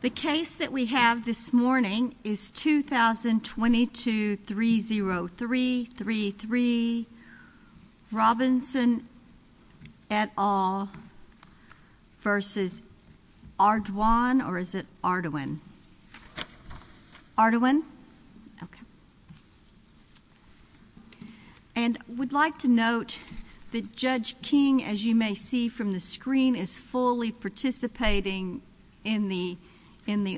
The case that we have this morning is 2022-30333, Robinson et al. v. Ardoin. Ardoin And we'd like to note that Judge King, as you may see from the screen, is fully participating in the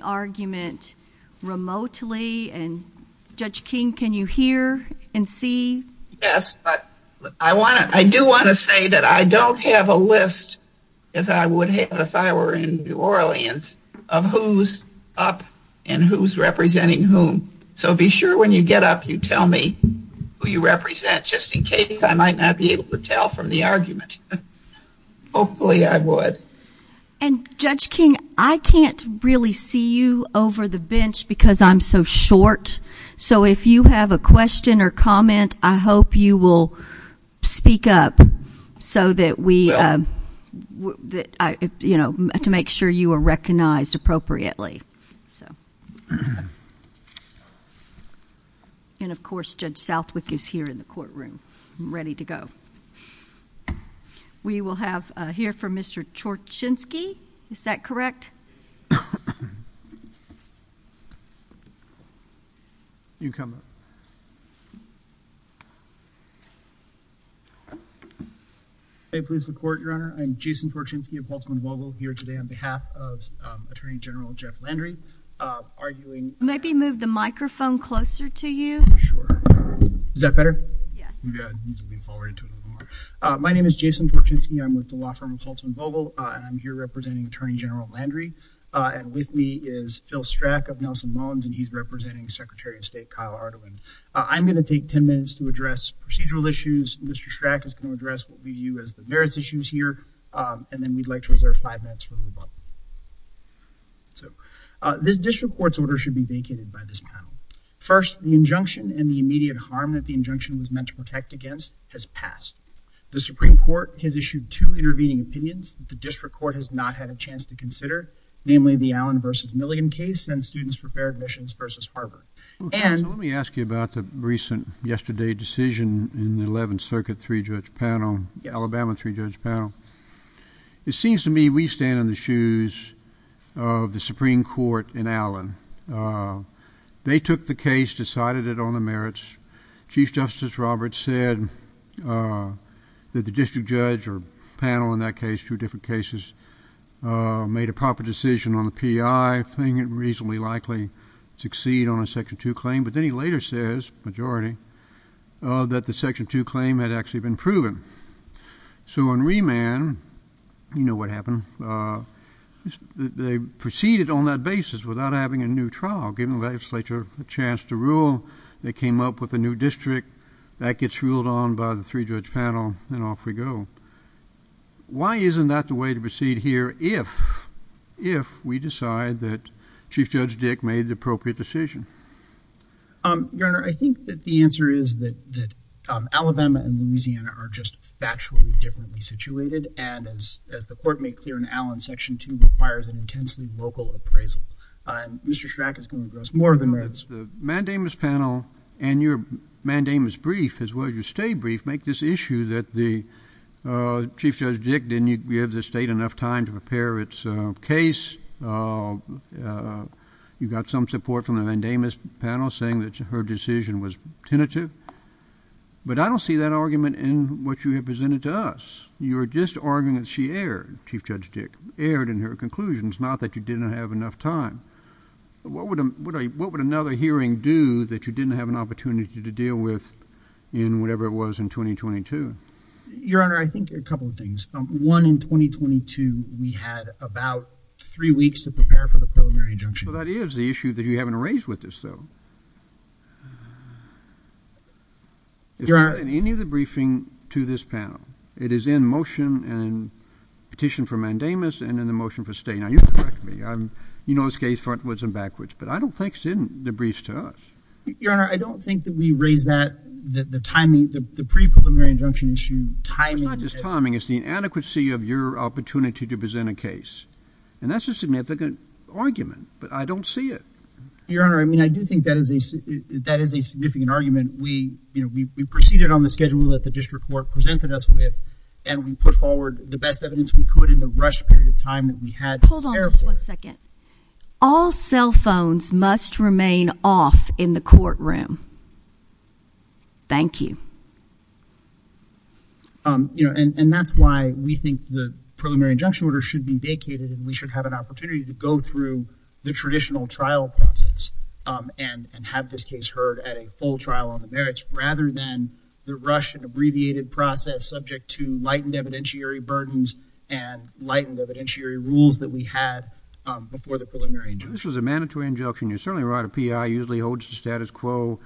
argument remotely. Judge King, can you hear and see? Yes, but I do want to say that I don't have a list, as I would have if I were in New Orleans, of who's up and who's representing whom. So be sure when you get up you tell me who you represent, just in case I might not be able to tell from the argument. Hopefully I would. And Judge King, I can't really see you over the bench because I'm so short. So if you have a question or comment, I hope you will speak up to make sure you are recognized appropriately. And of course Judge Southwick is here in the courtroom, ready to go. We will have here for Mr. Chorchinsky, is that correct? You can come up. Hey, police and court, Your Honor. I'm Jason Chorchinsky of Baltimore Law School here today on behalf of Attorney General Jeff Landry, arguing Maybe move the microphone closer to you. Sure. Is that better? Yeah. My name is Jason Chorchinsky. I'm with the law firm of Holtz & Vogel, and I'm here representing Attorney General Landry. And with me is Phil Strack of Nelson Mons, and he's representing Secretary of State Kyle Ardoin. I'm going to take 10 minutes to address procedural issues. Mr. Strack is going to address what we view as the merits issues here. And then we'd like to reserve five minutes for rebuttal. This district court's order should be vacated by this time. First, the injunction and the immediate harm that the injunction was meant to protect against has passed. The Supreme Court has issued two intervening opinions that the district court has not had a chance to consider, namely the Allen v. Milligan case and students for fair admissions versus Harvard. And let me ask you about the recent yesterday decision in the 11th Circuit three judge panel, Alabama three judge panel. It seems to me we stand in the shoes of the Supreme Court and Allen. They took the case, decided it on the merits. Chief Justice Roberts said that the district judge or panel in that case, two different cases, made a proper decision on the P.I., playing it reasonably likely to succeed on a Section 2 claim. But then he later says, majority, that the Section 2 claim had actually been proven. So on remand, you know what happened. They proceeded on that basis without having a new trial, giving the legislature a chance to rule. They came up with a new district that gets ruled on by the three judge panel. And off we go. Why isn't that the way to proceed here if if we decide that Chief Judge Dick made the appropriate decision? Your Honor, I think that the answer is that Alabama and Louisiana are just factually differently situated. And as the court made clear in Allen, Section 2 requires an intensely vocal appraisal. Mr. Shrack is going to address more than that. The mandamus panel and your mandamus brief as well as your stay brief make this issue that the Chief Judge Dick didn't give the state enough time to prepare its case. You've got some support from the mandamus panel saying that her decision was tentative. But I don't see that argument in what you have presented to us. You are just arguing that she erred. Chief Judge Dick erred in her conclusions, not that you didn't have enough time. What would what would another hearing do that you didn't have an opportunity to deal with in whatever it was in 2022? Your Honor, I think a couple of things. One, in 2022, we had about three weeks to prepare for the preliminary injunction. That is the issue that you haven't raised with this, though. In any of the briefing to this panel, it is in motion and petition for mandamus and then the motion for stay. Now, you know this case frontwards and backwards, but I don't think it's in the briefs to us. Your Honor, I don't think that we raised that. The timing, the pre-preliminary injunction issue. The timing of this timing is the inadequacy of your opportunity to present a case. And that's a significant argument, but I don't see it. Your Honor, I mean, I do think that is a significant argument. We, you know, we proceeded on the schedule that the district court presented us with. And we put forward the best evidence we could in the rush period of time that we had to care for it. Hold on just one second. All cell phones must remain off in the courtroom. Thank you. You know, and that's why we think the preliminary injunction order should be vacated. We should have an opportunity to go through the traditional trial process and have this case heard at a full trial on the merits, rather than the rush and abbreviated process subject to lightened evidentiary burdens and lightened evidentiary rules that we had before the preliminary injunction. This was a mandatory injunction. You certainly write a P.I., usually holds the status quo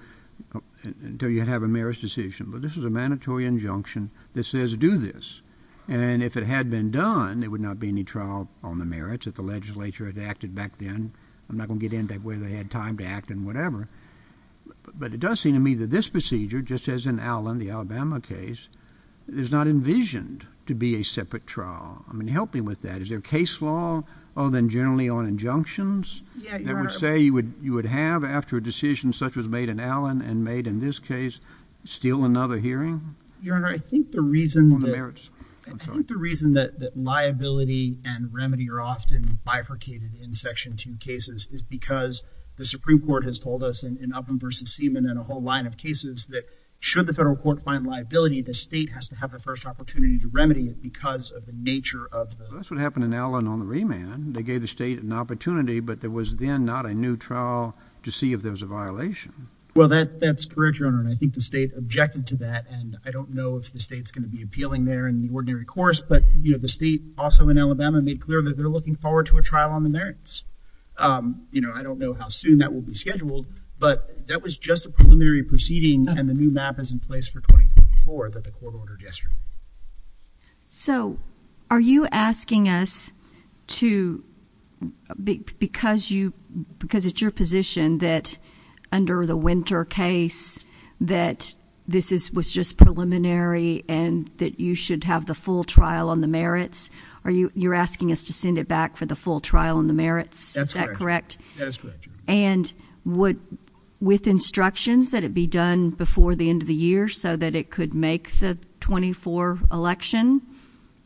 until you have a merits decision. But this is a mandatory injunction that says do this. And if it had been done, there would not be any trial on the merits if the legislature had acted back then. I'm not going to get into whether they had time to act and whatever. But it does seem to me that this procedure, just as in Allen, the Alabama case, is not envisioned to be a separate trial. I mean, help me with that. Is there a case law other than generally on injunctions? It would say you would have, after a decision such as made in Allen and made in this case, still another hearing? Your Honor, I think the reason that liability and remedy are often bifurcated in Section 2 cases is because the Supreme Court has told us in Upham v. Seaman and a whole line of cases that should the federal court find liability, the state has to have the first opportunity to remedy it because of the nature of the law. That's what happened in Allen on the remand. They gave the state an opportunity, but there was then not a new trial to see if there was a violation. Well, that's correct, Your Honor, and I think the state objected to that. And I don't know if the state's going to be appealing there in the ordinary course, but the state also in Alabama made clear that they're looking forward to a trial on the merits. I don't know how soon that will be scheduled, but that was just a preliminary proceeding and the new map is in place for 2024 that the court ordered yesterday. So are you asking us to, because it's your position that under the Winter case that this was just preliminary and that you should have the full trial on the merits, you're asking us to send it back for the full trial on the merits? Is that correct? That's correct. And would, with instructions, that it be done before the end of the year so that it could make the 24 election?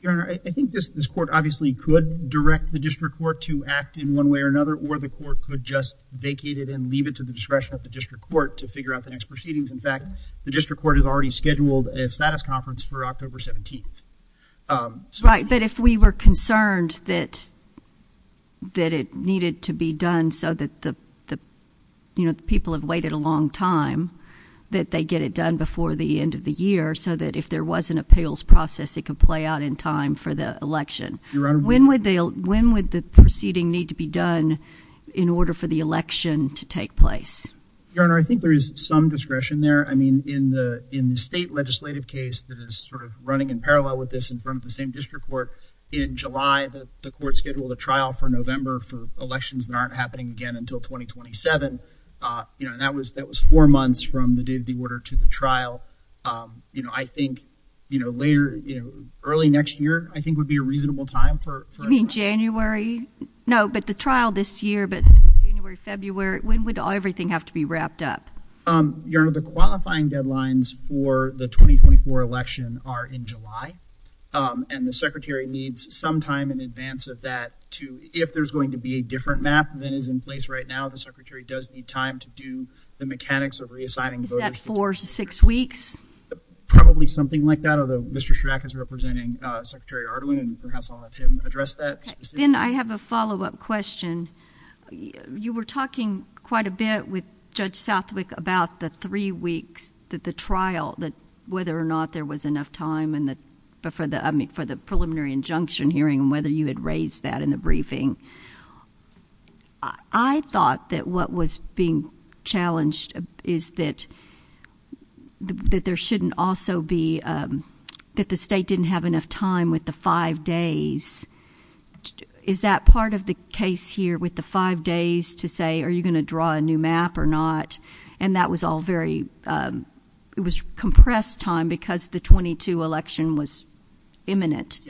Your Honor, I think this court obviously could direct the district court to act in one way or another, or the court could just vacate it and leave it to the discretion of the district court to figure out the next proceedings. In fact, the district court has already scheduled a status conference for October 17th. Right, but if we were concerned that it needed to be done so that the people have waited a long time, that they get it done before the end of the year so that if there was an appeals process, it could play out in time for the election. Your Honor. When would the proceeding need to be done in order for the election to take place? Your Honor, I think there is some discretion there. I mean, in the state legislative case that is sort of running in parallel with this in front of the same district court, in July the court scheduled a trial for November for elections that aren't happening again until 2027. That was four months from the date of the order to the trial. I think early next year, I think, would be a reasonable time for it. You mean January? No, but the trial this year, but January, February, when would everything have to be wrapped up? Your Honor, the qualifying deadlines for the 2024 election are in July, and the Secretary needs some time in advance of that to, if there's going to be a different map that is in place right now, the Secretary does need time to do the mechanics of reassigning voters. Is that four to six weeks? Probably something like that, although Mr. Chirac is representing Secretary Ardoin, and perhaps I'll let him address that. Ben, I have a follow-up question. You were talking quite a bit with Judge Southwick about the three weeks that the trial, whether or not there was enough time for the preliminary injunction hearing, whether you had raised that in the briefing. I thought that what was being challenged is that there shouldn't also be, that the state didn't have enough time with the five days. Is that part of the case here with the five days to say, are you going to draw a new map or not? And that was all very, it was compressed time because the 22 election was imminent.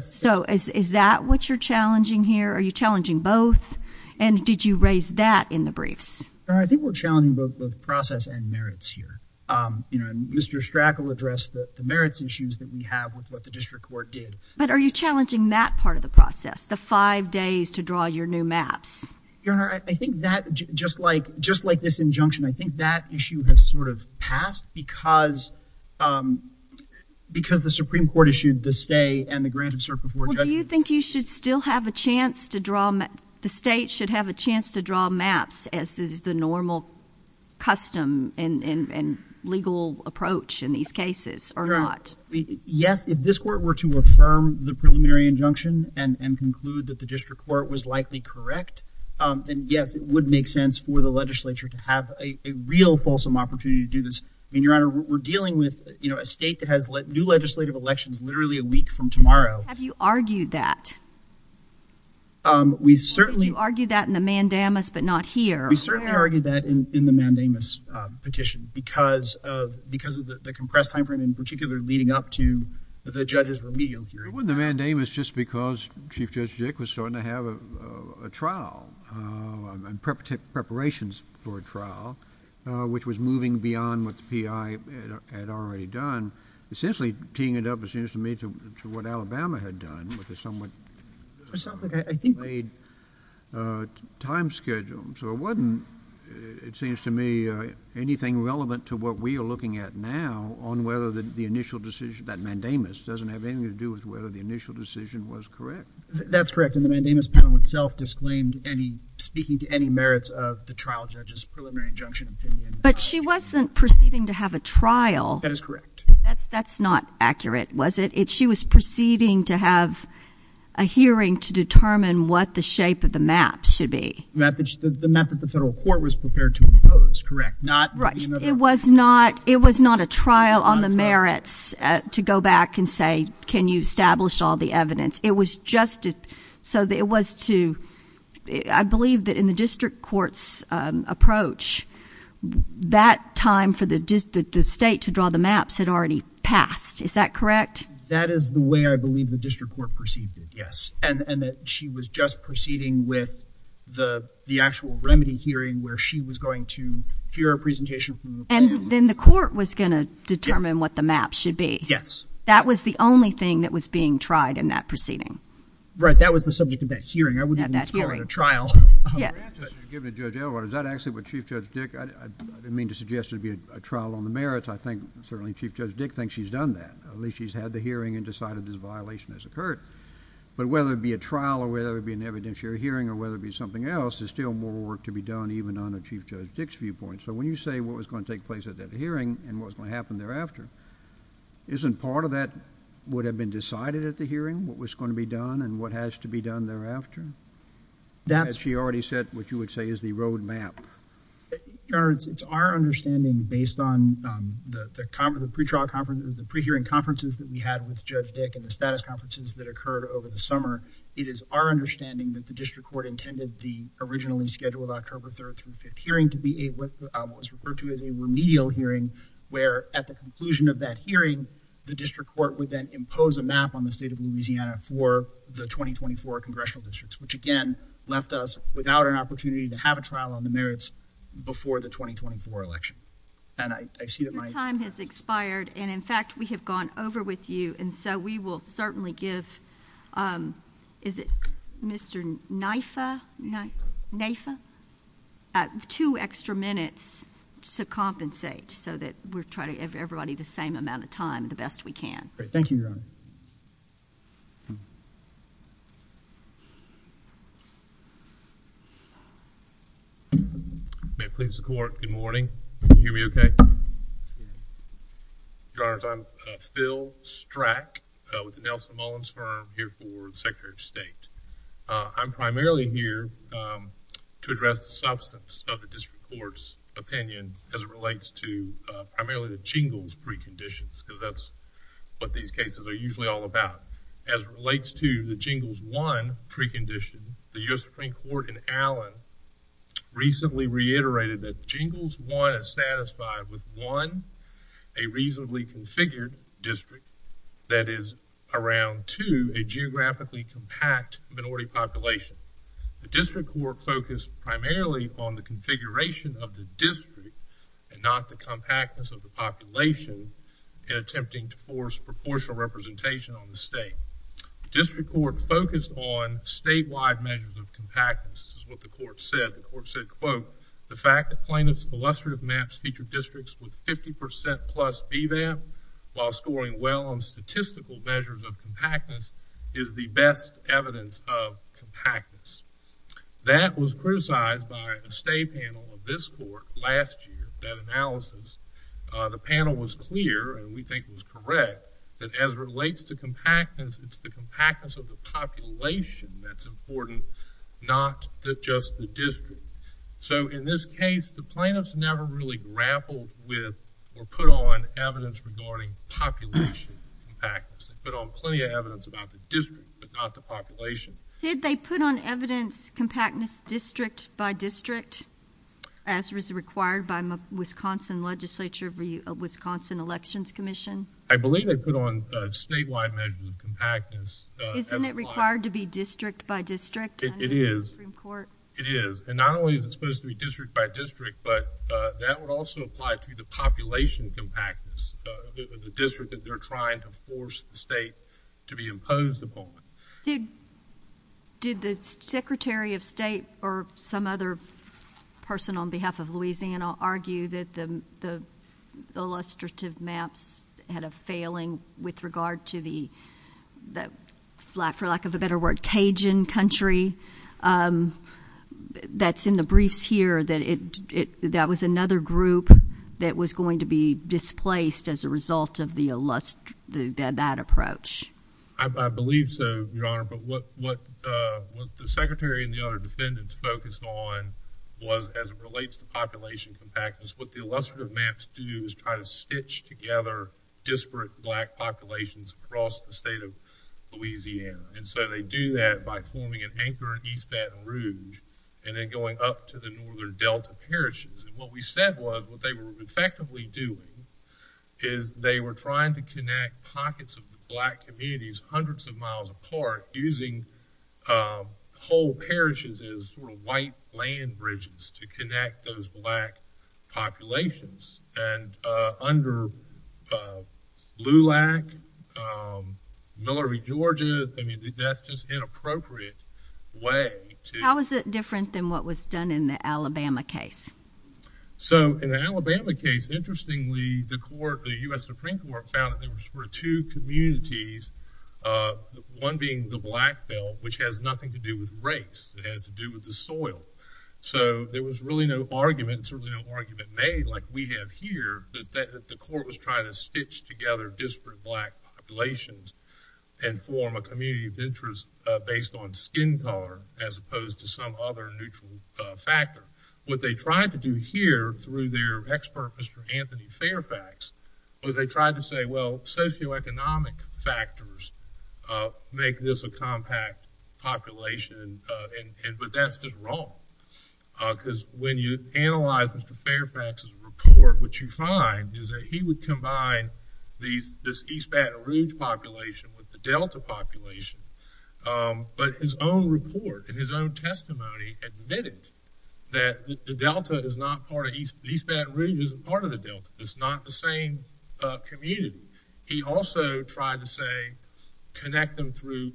So is that what you're challenging here? Are you challenging both, and did you raise that in the briefs? I think we're challenging both the process and merits here. Mr. Strack will address the merits issues that we have with what the district court did. But are you challenging that part of the process, the five days to draw your new maps? Your Honor, I think that, just like this injunction, I think that issue has sort of passed because the Supreme Court issued the stay and the granted cert before judges. Well, do you think you should still have a chance to draw, the state should have a chance to draw maps as is the normal custom and legal approach in these cases or not? Well, yes, if this court were to affirm the preliminary injunction and conclude that the district court was likely correct, then yes, it would make sense for the legislature to have a real fulsome opportunity to do this. I mean, Your Honor, we're dealing with, you know, a state that has new legislative elections literally a week from tomorrow. Have you argued that? We certainly... Have you argued that in the mandamus but not here? We certainly argued that in the mandamus petition because of the compressed time frame, in particular leading up to the judges of the medium period. Well, the mandamus, just because Chief Judge Dick was starting to have a trial and preparations for a trial, which was moving beyond what the PI had already done, essentially teeing it up as soon as it made to what Alabama had done, which is somewhat... I think... ...made time schedule. So it wasn't, it seems to me, anything relevant to what we are looking at now on whether the initial decision, that mandamus, doesn't have anything to do with whether the initial decision was correct. That's correct, and the mandamus panel itself disclaimed any... speaking to any merits of the trial judge's preliminary injunction opinion. But she wasn't proceeding to have a trial. That is correct. That's not accurate, was it? She was proceeding to have a hearing to determine what the shape of the map should be. The map that the federal court was prepared to propose, correct? Correct. It was not a trial on the merits to go back and say, can you establish all the evidence? It was just so that it was to... I believe that in the district court's approach, that time for the state to draw the maps had already passed. Is that correct? That is the way I believe the district court proceeded, yes. And that she was just proceeding with the actual remedy hearing where she was going to hear a presentation from the court. And then the court was going to determine what the map should be. Yes. That was the only thing that was being tried in that proceeding. Right, that was the subject of that hearing. I wouldn't have even thought about a trial. Yes. Is that actually what Chief Judge Dick... I didn't mean to suggest it would be a trial on the merits. I think certainly Chief Judge Dick thinks she's done that. At least she's had the hearing and decided this violation has occurred. But whether it be a trial or whether it be an evidentiary hearing or whether it be something else, there's still more work to be done even on the Chief Judge Dick's viewpoint. So when you say what was going to take place at that hearing and what was going to happen thereafter, isn't part of that what had been decided at the hearing, what was going to be done and what has to be done thereafter? As she already said, what you would say is the road map. It's our understanding, based on the pre-trial conferences, the pre-hearing conferences that we had with Judge Dick and the status conferences that occurred over the summer, it is our understanding that the district court intended the originally scheduled October 3rd through 5th hearing to be what was referred to as a remedial hearing where at the conclusion of that hearing, the district court would then impose a map on the state of Louisiana for the 2024 congressional districts, which again left us without an opportunity to have a trial on the merits before the 2024 election. And I see that my... Your time has expired. And in fact, we have gone over with you. And so we will certainly give... Is it Mr. Nyssa? Nyssa. Nyssa. Two extra minutes to compensate so that we're trying to give everybody the same amount of time the best we can. Thank you, Your Honor. May it please the Court. Good morning. Can you hear me okay? Your Honors, I'm Phil Strack with the Nelson Mullins firm here for Secretary of State. I'm primarily here to address the substance of the district court's opinion as it relates to primarily the Jingles preconditions because that's what these cases are usually all about. As it relates to the Jingles 1 precondition, the U.S. Supreme Court in Allen recently reiterated that Jingles 1 is satisfied with, one, a reasonably configured district that is around, two, a geographically compact minority population. The district court focused primarily on the configuration of the district and not the compactness of the population in attempting to force proportional representation on the state. The district court focused on statewide measures of compactness. This is what the court said. The court said, quote, the fact that plaintiffs' illustrative maps feature districts with 50% plus BVAM while scoring well on statistical measures of compactness is the best evidence of compactness. That was criticized by a state panel of this court last year, that analysis. The panel was clear, and we think it was correct, that as it relates to compactness, it's the compactness of the population that's important, not just the district. So in this case, the plaintiffs never really grappled with or put on evidence regarding population compactness. They put on plenty of evidence about the district, but not the population. Did they put on evidence compactness district by district as was required by the Wisconsin Legislature of the Wisconsin Elections Commission? I believe they put on statewide measures of compactness. Isn't it required to be district by district? It is. It is. And not only is it supposed to be district by district, but that would also apply to the population compactness of the district that they're trying to force the state to be imposed upon. Did the Secretary of State or some other person on behalf of Louisiana argue that the illustrative maps had a failing with regard to the, for lack of a better word, Cajun country? That's in the briefs here. That was another group that was going to be displaced as a result of that approach. I believe so, Your Honor, but what the Secretary and the other defendants focused on was, as it relates to population compactness, what the illustrative maps do is try to stitch together disparate black populations across the state of Louisiana. And so they do that by forming an anchor in East Baton Rouge and then going up to the northern Delta parishes. And what we said was what they were effectively doing is they were trying to connect pockets of black communities hundreds of miles apart using whole parishes as white land bridges to connect those black populations. And under LULAC, Millery, Georgia, I mean, that's just an inappropriate way to... How is it different than what was done in the Alabama case? So in the Alabama case, interestingly, the court, the U.S. Supreme Court, found that there were two communities, one being the Black Belt, which has nothing to do with race. It has to do with the soil. So there was really no argument, and certainly no argument made, like we have here, that the court was trying to stitch together disparate black populations and form a community of interest based on skin color as opposed to some other neutral factor. What they tried to do here, through their expert, Mr. Anthony Fairfax, was they tried to say, well, socioeconomic factors make this a compact population, but that's been wrong. Because when you analyze Mr. Fairfax's report, what you find is that he would combine this East Baton Rouge population with the Delta population. But his own report and his own testimony admitted that the Delta is not part of... East Baton Rouge isn't part of the Delta. It's not the same community. He also tried to say, connect them through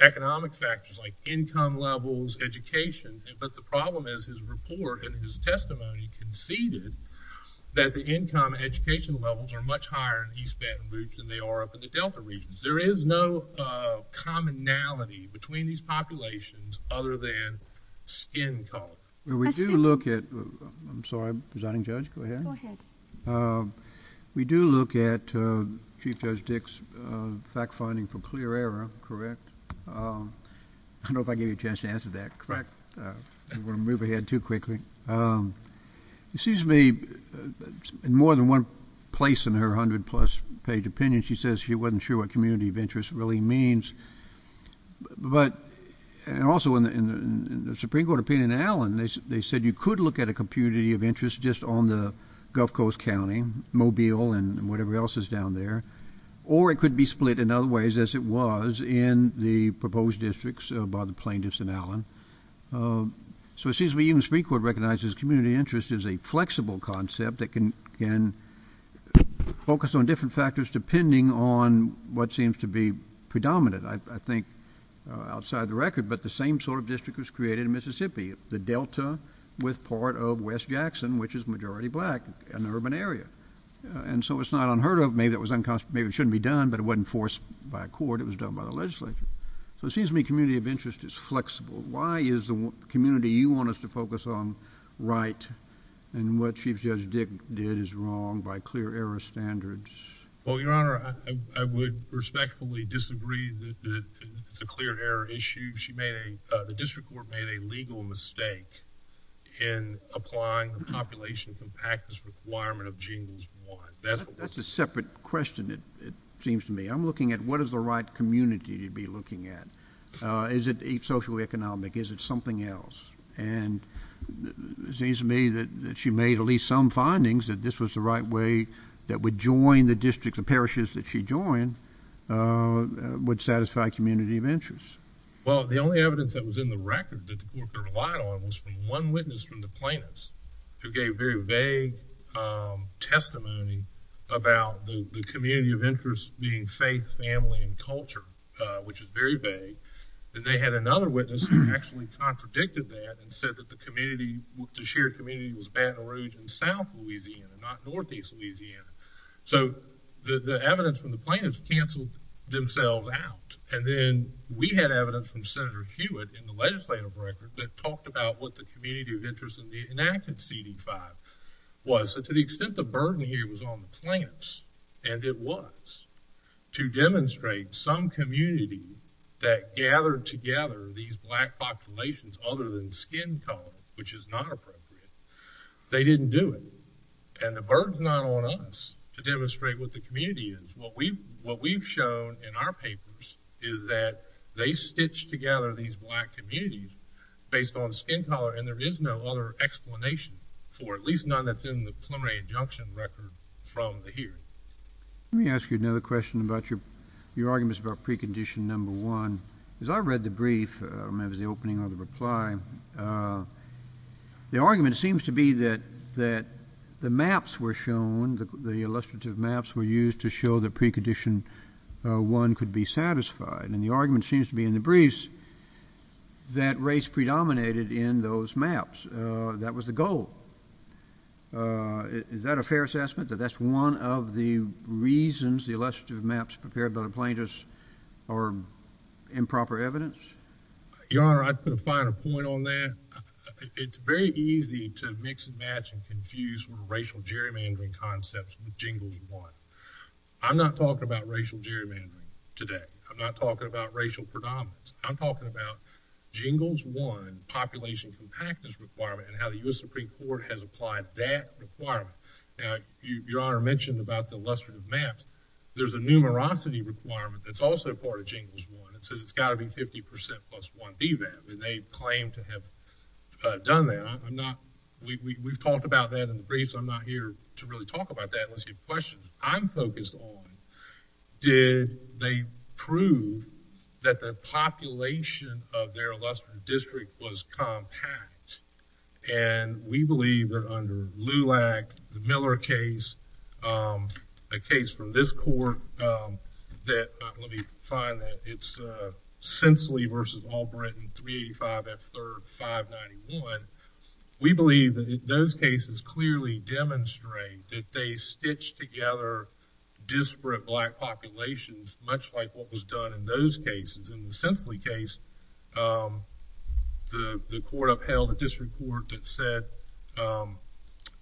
economic factors like income levels, education, but the problem is his report and his testimony conceded that the income and education levels are much higher in East Baton Rouge than they are up in the Delta region. There is no commonality between these populations other than skin color. We do look at... I'm sorry, Presiding Judge, go ahead. Go ahead. We do look at Chief Judge Dick's fact-finding from clear error, correct? I don't know if I gave you a chance to answer that. Correct. I don't want to move ahead too quickly. It seems to me, in more than one place in her 100-plus page opinion, she says she wasn't sure what community of interest really means. But, and also in the Supreme Court opinion in Allen, they said you could look at a community of interest just on the Gulf Coast County, Mobile, and whatever else is down there, or it could be split in other ways, as it was, in the proposed districts by the plaintiffs in Allen. So it seems to me even the Supreme Court recognizes community of interest is a flexible concept that can focus on different factors depending on what seems to be predominant, I think, outside the record. But the same sort of district was created in Mississippi, the Delta with part of West Jackson, which is majority black, an urban area. And so it's not unheard of. Maybe it shouldn't be done, but it wasn't forced by court. It was done by the legislature. So it seems to me community of interest is flexible. Why is the community you want us to focus on right, and what Chief Judge Dick did is wrong by clear error standards? Well, Your Honor, I would respectfully disagree that it's a clear error issue. She made a, the district court made a legal mistake in applying the population compactus requirement of Genes 1. That's a separate question, it seems to me. I'm looking at what is the right community to be looking at. Is it socioeconomic? Is it something else? And it seems to me that she made at least some findings that this was the right way that would join the districts and parishes that she joined would satisfy community of interest. Well, the only evidence that was in the record that the court heard a lot of it was from one witness from the plaintiffs who gave very vague testimony about the community of interest being faith, family, and culture, which is very vague. And they had another witness who actually contradicted that and said that the community, the shared community was Baton Rouge and South Louisiana, not Northeast Louisiana. So the evidence from the plaintiffs canceled themselves out. And then we had evidence from Senator Hewitt in the legislative record that talked about what the community of interest in the enacted CD5 was. So to the extent the burden here was on the plaintiffs, and it was, to demonstrate some community that gathered together these black populations other than skin color, which is not appropriate, they didn't do it. And the burden's not on us to demonstrate what the community is. What we've shown in our papers is that they stitched together these black communities based on skin color, and there is no other explanation for, at least none that's in the preliminary injunction record from here. Let me ask you another question about your arguments about precondition number one. As I read the brief, I remember the opening of the reply, the argument seems to be that the maps were shown, the illustrative maps were used to show that precondition one could be satisfied. And the argument seems to be in the briefs that race predominated in those maps. That was the goal. Is that a fair assessment, that that's one of the reasons the illustrative maps prepared by the plaintiffs are improper evidence? Your Honor, I can find a point on that. It's very easy to mix and match and confuse racial gerrymandering concepts with jingles one. I'm not talking about racial gerrymandering today. I'm not talking about racial predominance. I'm talking about jingles one, the population from taxes requirement and how the U.S. Supreme Court has applied that requirement. Your Honor mentioned about the illustrative maps. There's a numerosity requirement that's also a part of jingles one. It says it's gotta be 50% plus one D map. And they claim to have done that. We've talked about that in the briefs. I'm not here to really talk about that unless you have questions. I'm focused on did they prove that the population of their lesser district was compact? And we believe that under LULAC, the Miller case, a case from this court that, let me find it. It's Sinsley versus Allbritton 385 at 3rd 591. We believe that those cases clearly demonstrate that they stitched together disparate black populations much like what was done in those cases. In the Sinsley case, the court upheld a district court that said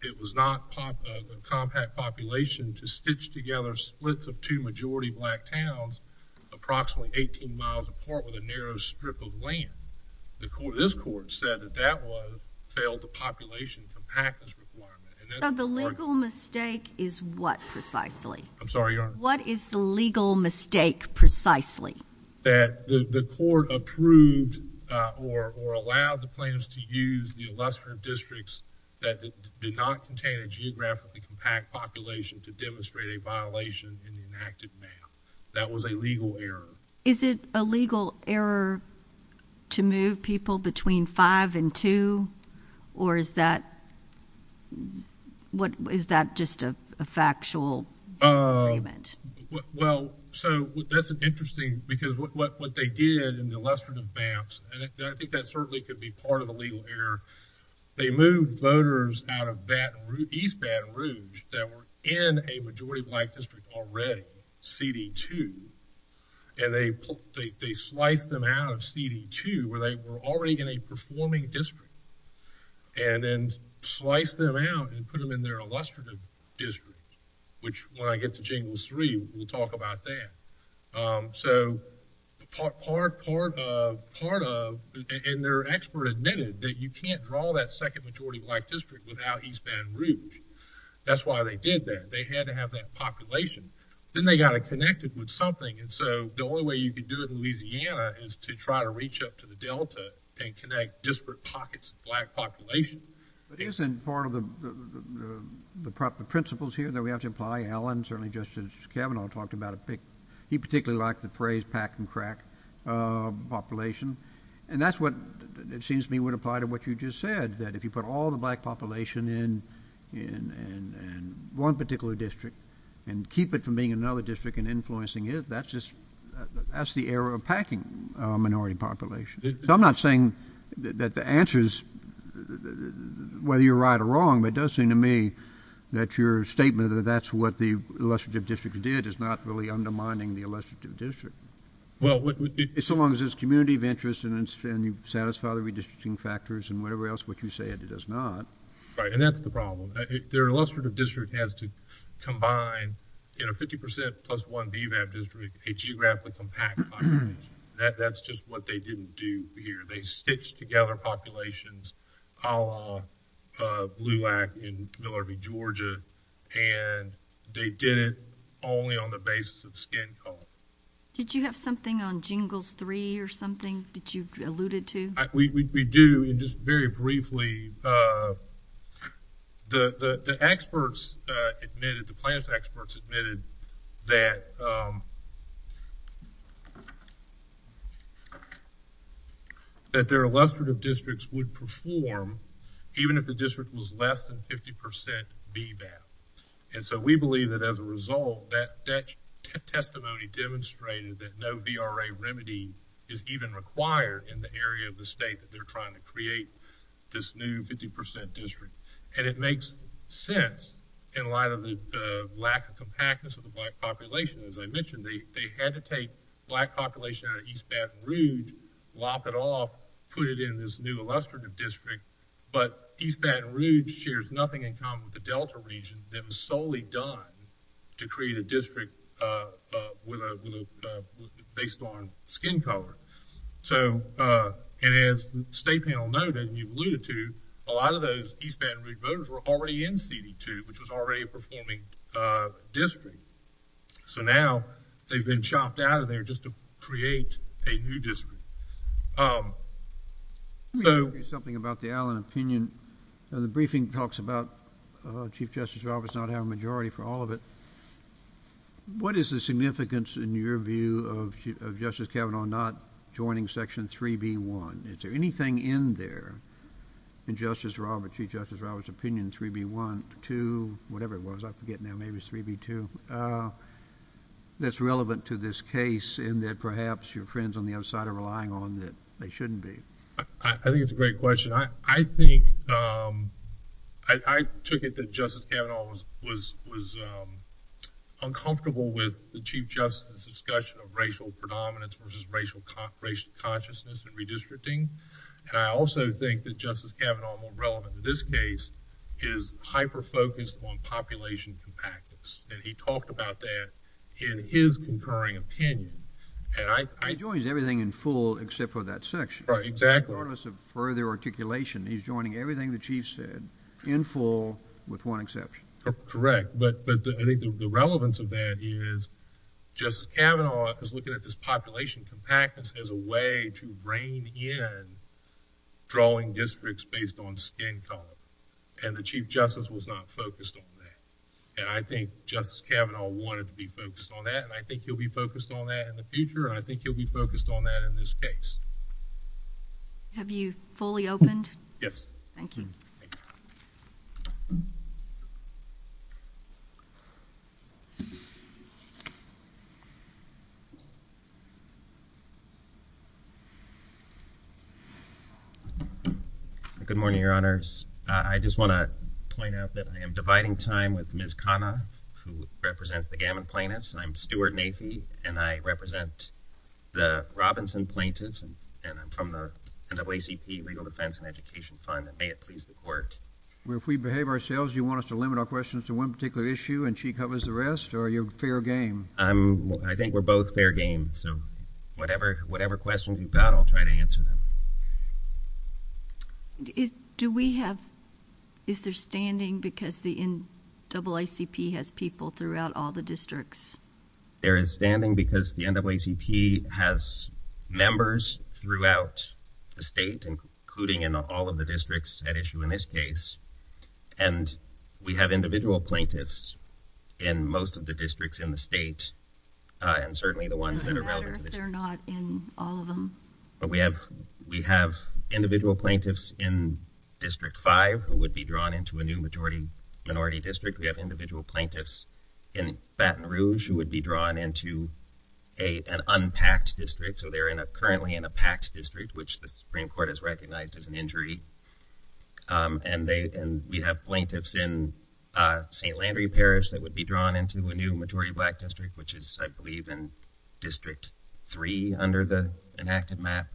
it was not a compact population to stitch together splits of two majority black towns approximately 18 miles apart with a narrow strip of land. This court said that that one failed the population from taxes requirement. So the legal mistake is what precisely? I'm sorry, Your Honor. What is the legal mistake precisely? That the court approved or allowed the plans to use the lesser districts that did not contain a geographically compact population to demonstrate a violation in an active manner. That was a legal error. Is it a legal error to move people between 5 and 2? Or is that just a factual argument? Well, so that's interesting because what they did in the lesser advance, and I think that certainly could be part of the legal error. They moved voters out of East Baton Rouge that were in a majority black district already, CD2. And they sliced them out of CD2 where they were already in a performing district, and then sliced them out and put them in their illustrative district, which when I get to James 3, we'll talk about that. So part of, and their expert admitted that you can't draw that second majority black district without East Baton Rouge. That's why they did that. They had to have that population. Then they got it connected with something, and so the only way you could do it in Louisiana is to try to reach up to the delta and connect disparate pockets of black population. But isn't part of the proper principles here that we have to apply? Alan, certainly just as Kevin all talked about, he particularly liked the phrase pack and crack population. And that's what it seems to me would apply to what you just said, that if you put all the black population in one particular district and keep it from being another district and influencing it, that's the era of packing minority population. So I'm not saying that the answer is whether you're right or wrong, but it does seem to me that your statement that that's what the illustrative district did is not really undermining the illustrative district. So long as there's community of interest and you satisfy the redistricting factors and whatever else, which you said it does not. Right, and that's the problem. Their illustrative district has to combine 50% plus one with a geographic compact. That's just what they didn't do here. They stitched together populations a la Blue Lac in Miller v. Georgia, and they did it only on the basis of skin color. Did you have something on Jingles 3 or something that you alluded to? We do. And just very briefly, the experts admitted, the plans experts admitted that that their illustrative districts would perform even if the district was less than 50% BVAP. And so we believe that as a result, that testimony demonstrated that no VRA remedy is even required in the area of the state that they're trying to create this new 50% district. And it makes sense in light of the lack of compactness of the black population. As I mentioned, they had to take black population out of East Baton Rouge, lock it off, put it in this new illustrative district, but East Baton Rouge shares nothing in common with the Delta region that was solely done to create a district based on skin color. So as the state panel noted, and you alluded to, a lot of those East Baton Rouge voters were already in CD2, which was already a performing district. So now they've been chopped out of there just to create a new district. Let me ask you something about the Allen opinion. The briefing talks about Chief Justice Roberts not having a majority for all of it. What is the significance, in your view, of Justice Kavanaugh not joining Section 3B1? Is there anything in there, in Chief Justice Roberts' opinion, 3B1, 2, whatever it was. I forget now. Maybe it was 3B2, that's relevant to this case in that perhaps your friends on the other side are relying on that they shouldn't be. I think it's a great question. I took it that Justice Kavanaugh was uncomfortable with the Chief Justice's discussion of racial predominance, which is racial consciousness and redistricting. And I also think that Justice Kavanaugh, more relevant in this case, is hyper-focused on population compactness. And he talked about that in his concurring opinion. He joins everything in full except for that section. Right, exactly. Regardless of further articulation, he's joining everything the Chief said in full with one exception. Correct. But the relevance of that is Justice Kavanaugh is looking at this population compactness as a way to rein in drawing districts based on skin color. And the Chief Justice was not focused on that. And I think Justice Kavanaugh wanted to be focused on that, and I think he'll be focused on that in the future, and I think he'll be focused on that in this case. Have you fully opened? Yes. Thank you. Good morning, Your Honors. I just want to point out that I am dividing time with Ms. Kavanaugh, who represents the Gammon plaintiffs. I'm Stuart Nafee, and I represent the Robinson plaintiffs, and I'm from the NAACP Legal Defense and Education Fund, and may it please the Court. Well, if we behave ourselves, do you want us to limit our questions to one particular issue and she covers the rest, or are you fair game? I think we're both fair game. Whatever questions you've got, I'll try to answer them. Do we have... Is there standing because the NAACP has people throughout all the districts? There is standing because the NAACP has members throughout the state, including in all of the districts at issue in this case, and we have individual plaintiffs in most of the districts in the state, and certainly the ones that are... They're not in all of them. We have individual plaintiffs in District 5 who would be drawn into a new majority-minority district. We have individual plaintiffs in Baton Rouge who would be drawn into an unpacked district, so they're currently in a packed district, which the Supreme Court has recognized as an injury. And we have plaintiffs in St. Landry, Paris, that would be drawn into a new majority-black district, which is, I believe, in District 3 under the enacted map.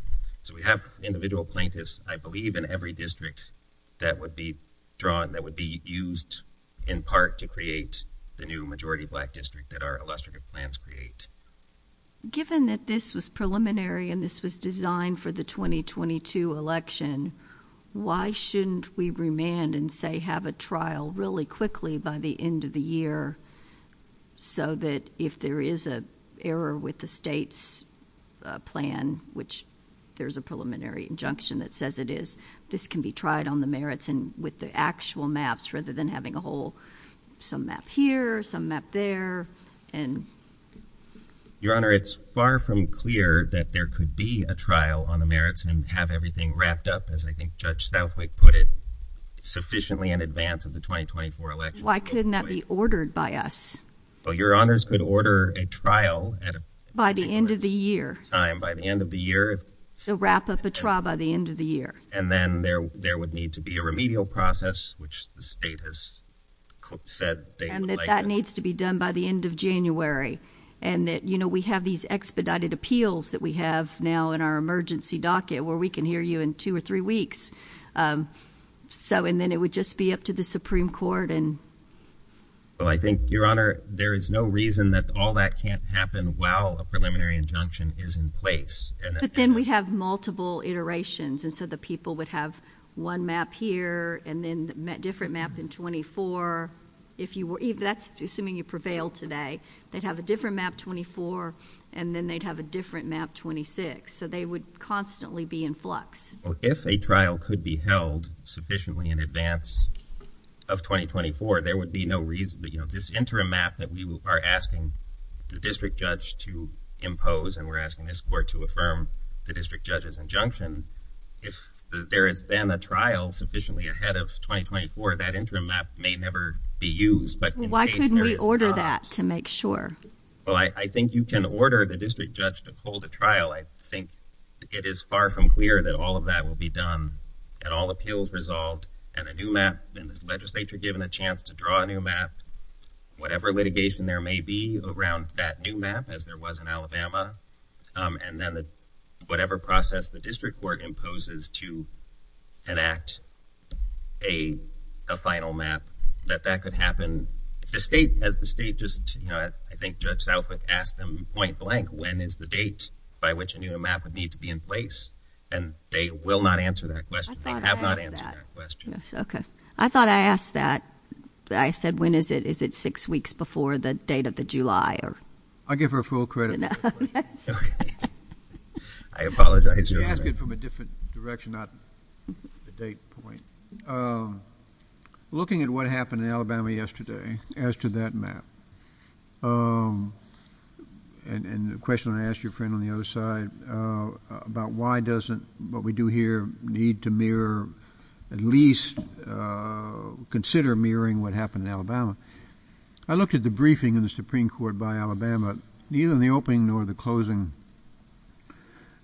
So we have individual plaintiffs, I believe, in every district that would be drawn, that would be used in part to create the new majority-black district that our illustrative plans create. Given that this was preliminary and this was designed for the 2022 election, why shouldn't we remand and, say, have a trial really quickly by the end of the year so that if there is an error with the state's plan, which there's a preliminary injunction that says it is, this can be tried on the merits and with the actual maps rather than having a whole... some map here, some map there, and... Your Honor, it's far from clear that there could be a trial on the merits and have everything wrapped up, as I think Judge Southwick put it, sufficiently in advance of the 2024 election. Why couldn't that be ordered by us? Well, Your Honors could order a trial... By the end of the year. By the end of the year. So wrap up a trial by the end of the year. And then there would need to be a remedial process, which the state has said... And that that needs to be done by the end of January. And that, you know, we have these expedited appeals that we have now in our emergency docket where we can hear you in two or three weeks. So, and then it would just be up to the Supreme Court and... Well, I think, Your Honor, there is no reason that all that can't happen while a preliminary injunction is in place. But then we have multiple iterations, and so the people would have one map here and then a different map in 24. If you were... That's assuming you prevailed today. They'd have a different map 24, and then they'd have a different map 26. So they would constantly be in flux. Well, if a trial could be held sufficiently in advance of 2024, there would be no reason... You know, this interim map that we are asking the district judge to impose and we're asking this court to affirm the district judge's injunction, if there has been a trial sufficiently ahead of 2024, that interim map may never be used. Why couldn't we order that to make sure? Well, I think you can order the district judge to pull the trial. I think it is far from clear that all of that will be done and all appeals resolved, and a new map and the legislature given a chance to draw a new map, whatever litigation there may be around that new map, as there was in Alabama, and then whatever process the district court imposes to enact a final map, that that could happen. If the state... If the state just, you know, I think Judge Southwick asked them point blank, when is the date by which a new map would need to be in place, then they will not answer that question. They have not answered that question. Okay. I thought I asked that. I said, when is it? Is it six weeks before the date of the July? I give her full credit. That's right. I apologize. You asked it from a different direction, not the date point. Looking at what happened in Alabama yesterday, as to that map, and the question I asked your friend on the other side about why doesn't what we do here need to mirror, at least consider mirroring what happened in Alabama. I looked at the briefing in the Supreme Court by Alabama. Neither in the opening nor the closing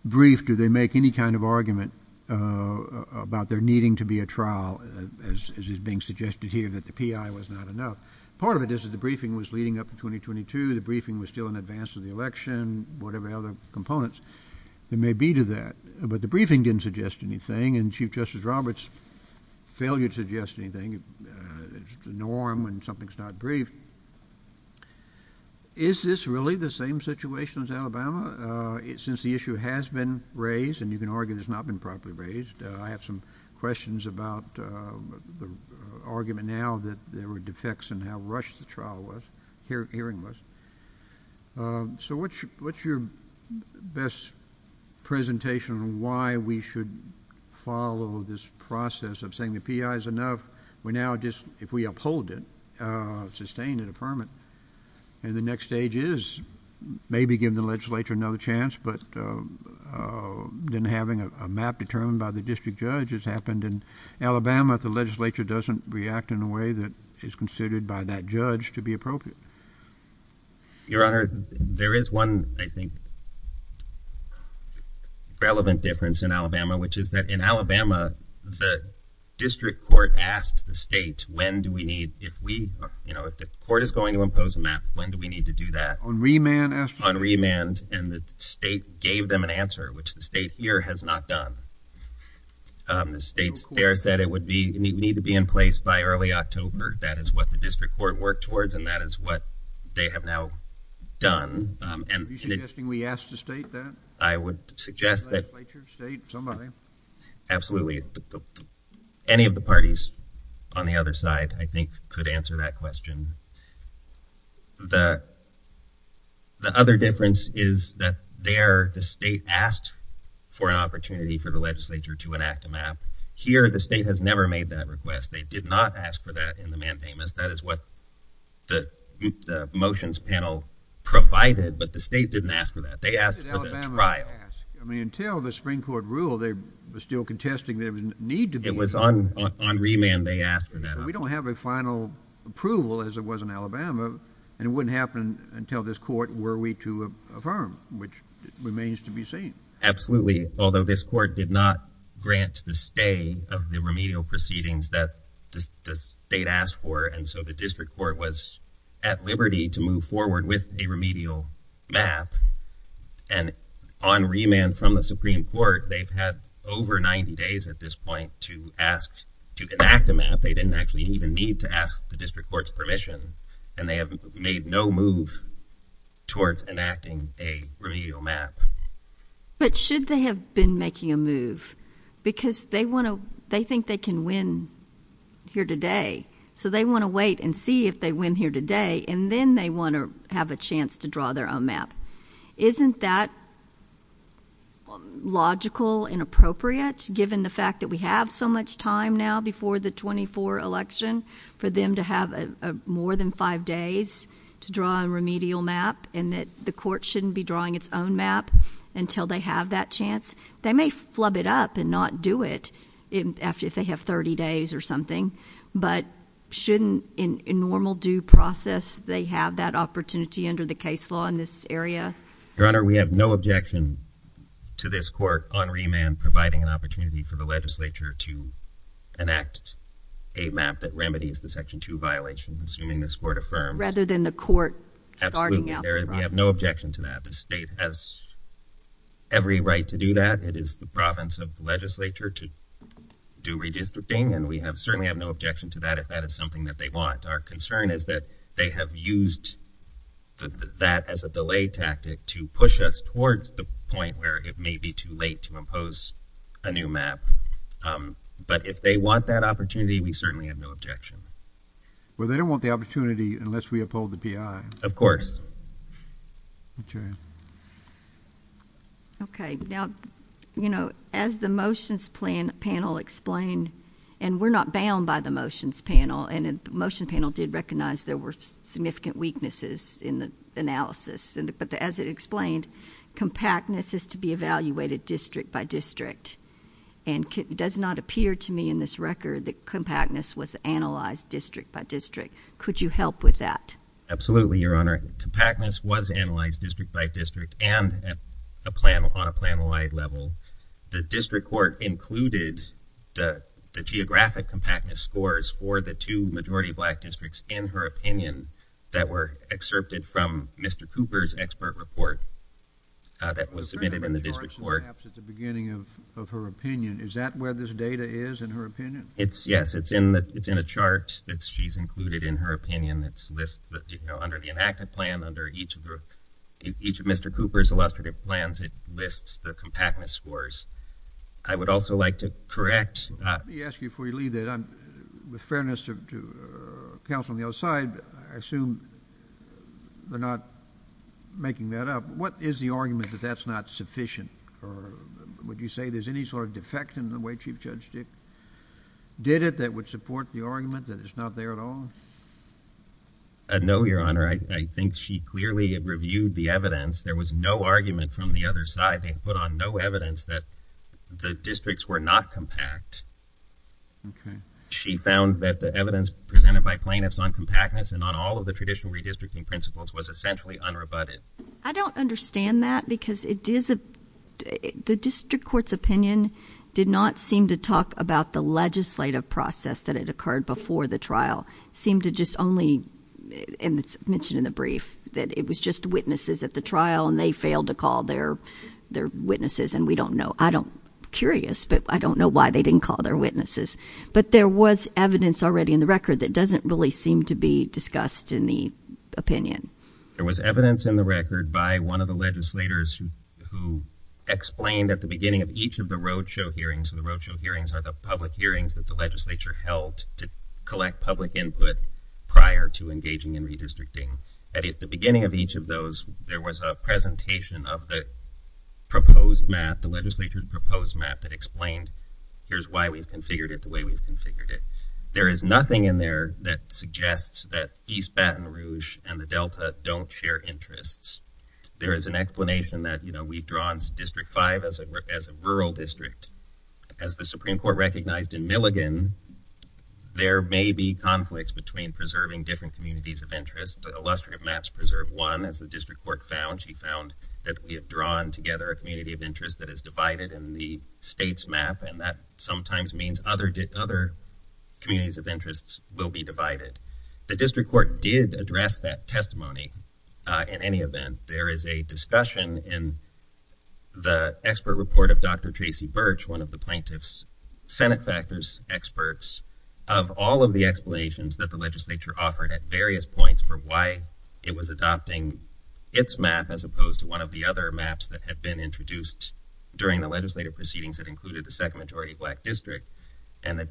brief did they make any kind of argument about there needing to be a trial, as is being suggested here, that the P.I. was not enough. Part of it is that the briefing was leading up to 2022. The briefing was still in advance of the election, and whatever other components there may be to that. But the briefing didn't suggest anything, and Chief Justice Roberts' failure to suggest anything is the norm when something's not briefed. Is this really the same situation as Alabama? Since the issue has been raised, and you can argue it's not been properly raised, I have some questions about the argument now that there were defects in how rushed the hearing was. So what's your best presentation on why we should follow this process of saying the P.I. is enough? We're now just, if we uphold it, sustain it, affirm it. And the next stage is maybe give the legislature another chance, but then having a map determined by the district judge as happened in Alabama, if the legislature doesn't react in a way that is considered by that judge to be appropriate. Your Honor, there is one, I think, relevant difference in Alabama, which is that in Alabama, the district court asked the state, when do we need, if we, you know, if the court is going to impose a map, when do we need to do that? On remand, and the state gave them an answer, which the state here has not done. The state there said it would need to be in place by early October. That is what the district court worked towards, and that is what they have now done. Are you suggesting we ask the state that? I would suggest that... The legislature, state, somebody? Absolutely. Any of the parties on the other side, I think, could answer that question. The other difference is that there, the state asked for an opportunity for the legislature to enact a map. Here, the state has never made that request. They did not ask for that in the mandamus. That is what the motions panel provided, but the state didn't ask for that. They asked for the trial. I mean, until the Supreme Court ruled, they were still contesting there would need to be... It was on remand they asked for that. We don't have a final approval, as it was in Alabama, and it wouldn't happen until this court were we to affirm, which remains to be seen. Absolutely. Although this court did not grant the stay of the remedial proceedings that the state asked for and so the district court was at liberty to move forward with a remedial map. And on remand from the Supreme Court, they've had over 90 days at this point to ask to enact a map. They didn't actually even need to ask the district court's permission, and they have made no move towards enacting a remedial map. But should they have been making a move? Because they want to... They think they can win here today, so they want to wait and see if they win here today, and then they want to have a chance to draw their own map. Isn't that logical and appropriate, given the fact that we have so much time now before the 24 election, for them to have more than five days to draw a remedial map and that the court shouldn't be drawing its own map until they have that chance? They may flub it up and not do it if they have 30 days or something, but shouldn't, in normal due process, they have that opportunity under the case law in this area? Your Honor, we have no objection to this court on remand providing an opportunity for the legislature to enact a map that remedies the Section 2 violations, assuming this court affirms. Rather than the court starting out. Absolutely, Your Honor, we have no objection to that. The state has every right to do that. It is the province of the legislature to do redistricting, and we certainly have no objection to that if that is something that they want. Our concern is that they have used that as a delay tactic to push us towards the point where it may be too late to impose a new map. But if they want that opportunity, we certainly have no objection. Well, they don't want the opportunity Of course. Okay. Okay, now, you know, as the motions panel explained, and we're not bound by the motions panel, and the motion panel did recognize there were significant weaknesses in the analysis, but as it explained, compactness is to be evaluated district by district, and it does not appear to me in this record that compactness was analyzed district by district. Could you help with that? Absolutely, Your Honor. Compactness was analyzed district by district, and on a plan-wide level. The district court included the geographic compactness scores for the two majority black districts, in her opinion, that were excerpted from Mr. Cooper's expert report that was submitted in the district court. Perhaps at the beginning of her opinion. Is that where this data is, in her opinion? Yes, it's in a chart that she's included in her opinion that's listed under the enacted plan under each of Mr. Cooper's illustrative plans. It lists the compactness scores. I would also like to correct... Let me ask you before you leave that, with fairness to counsel on the other side, I assume they're not making that up. What is the argument that that's not sufficient? Would you say there's any sort of defect in the way Chief Judge Dick did it that would support the argument that it's not there at all? No, Your Honor. I think she clearly had reviewed the evidence. There was no argument from the other side. They had put on no evidence that the districts were not compact. She found that the evidence presented by plaintiffs on compactness and on all of the traditional redistricting principles was essentially unrebutted. I don't understand that, because it is a... The district court's opinion did not seem to talk about the legislative process that had occurred before the trial. It seemed to just only... And it's mentioned in the brief that it was just witnesses at the trial and they failed to call their witnesses, and we don't know... I'm curious, but I don't know why they didn't call their witnesses. But there was evidence already in the record that doesn't really seem to be discussed in the opinion. There was evidence in the record by one of the legislators who explained at the beginning of each of the roadshow hearings, and the roadshow hearings are the public hearings that the legislature held to collect public input prior to engaging in redistricting. At the beginning of each of those, there was a presentation of the proposed map, the legislature's proposed map, that explained here's why we've configured it the way we've configured it. There is nothing in there that suggests that East Baton Rouge and the Delta don't share interests. There is an explanation that, you know, we've drawn District 5 as a rural district. As the Supreme Court recognized in Milligan, there may be conflicts between preserving different communities of interest, but illustrative maps preserve one. As the District Court found, she found that we have drawn together a community of interest that is divided in the state's map, and that sometimes means other communities of interest will be divided. The District Court did address that testimony. In any event, there is a discussion in the expert report of Dr. Tracy Birch one of the plaintiff's Senate factors experts of all of the explanations that the legislature offered at various points for why it was adopting its map as opposed to one of the other maps that had been introduced during the legislative proceedings that included the second majority black district. And the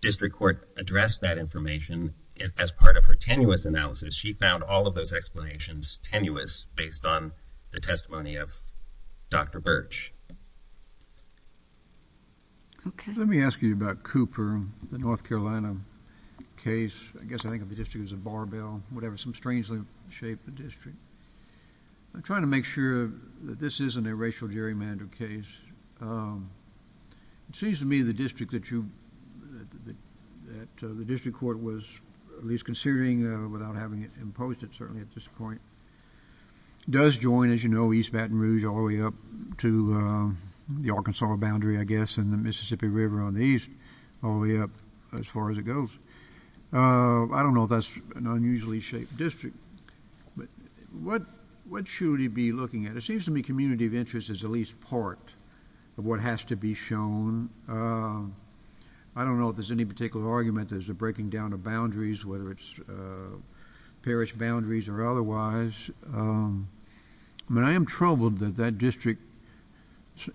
District Court addressed that information as part of her tenuous analysis. She found all of those explanations tenuous based on the testimony of Dr. Birch. Okay, let me ask you about Cooper, the North Carolina case. I guess I think the district was in Barbell, whatever. Some strangely shaped district. I'm trying to make sure that this isn't a racial gerrymander case. It seems to me the district that you... that the District Court was at least considering without having imposed it certainly at this point does join, as you know, East Baton Rouge all the way up to the Arkansas boundary, I guess, and the Mississippi River on the east all the way up as far as it goes. I don't know if that's an unusually shaped district. But what should it be looking at? It seems to me community of interest is at least part of what has to be shown. I don't know if there's any particular argument as to breaking down the boundaries, whether it's parish boundaries or otherwise. But I am troubled that that district,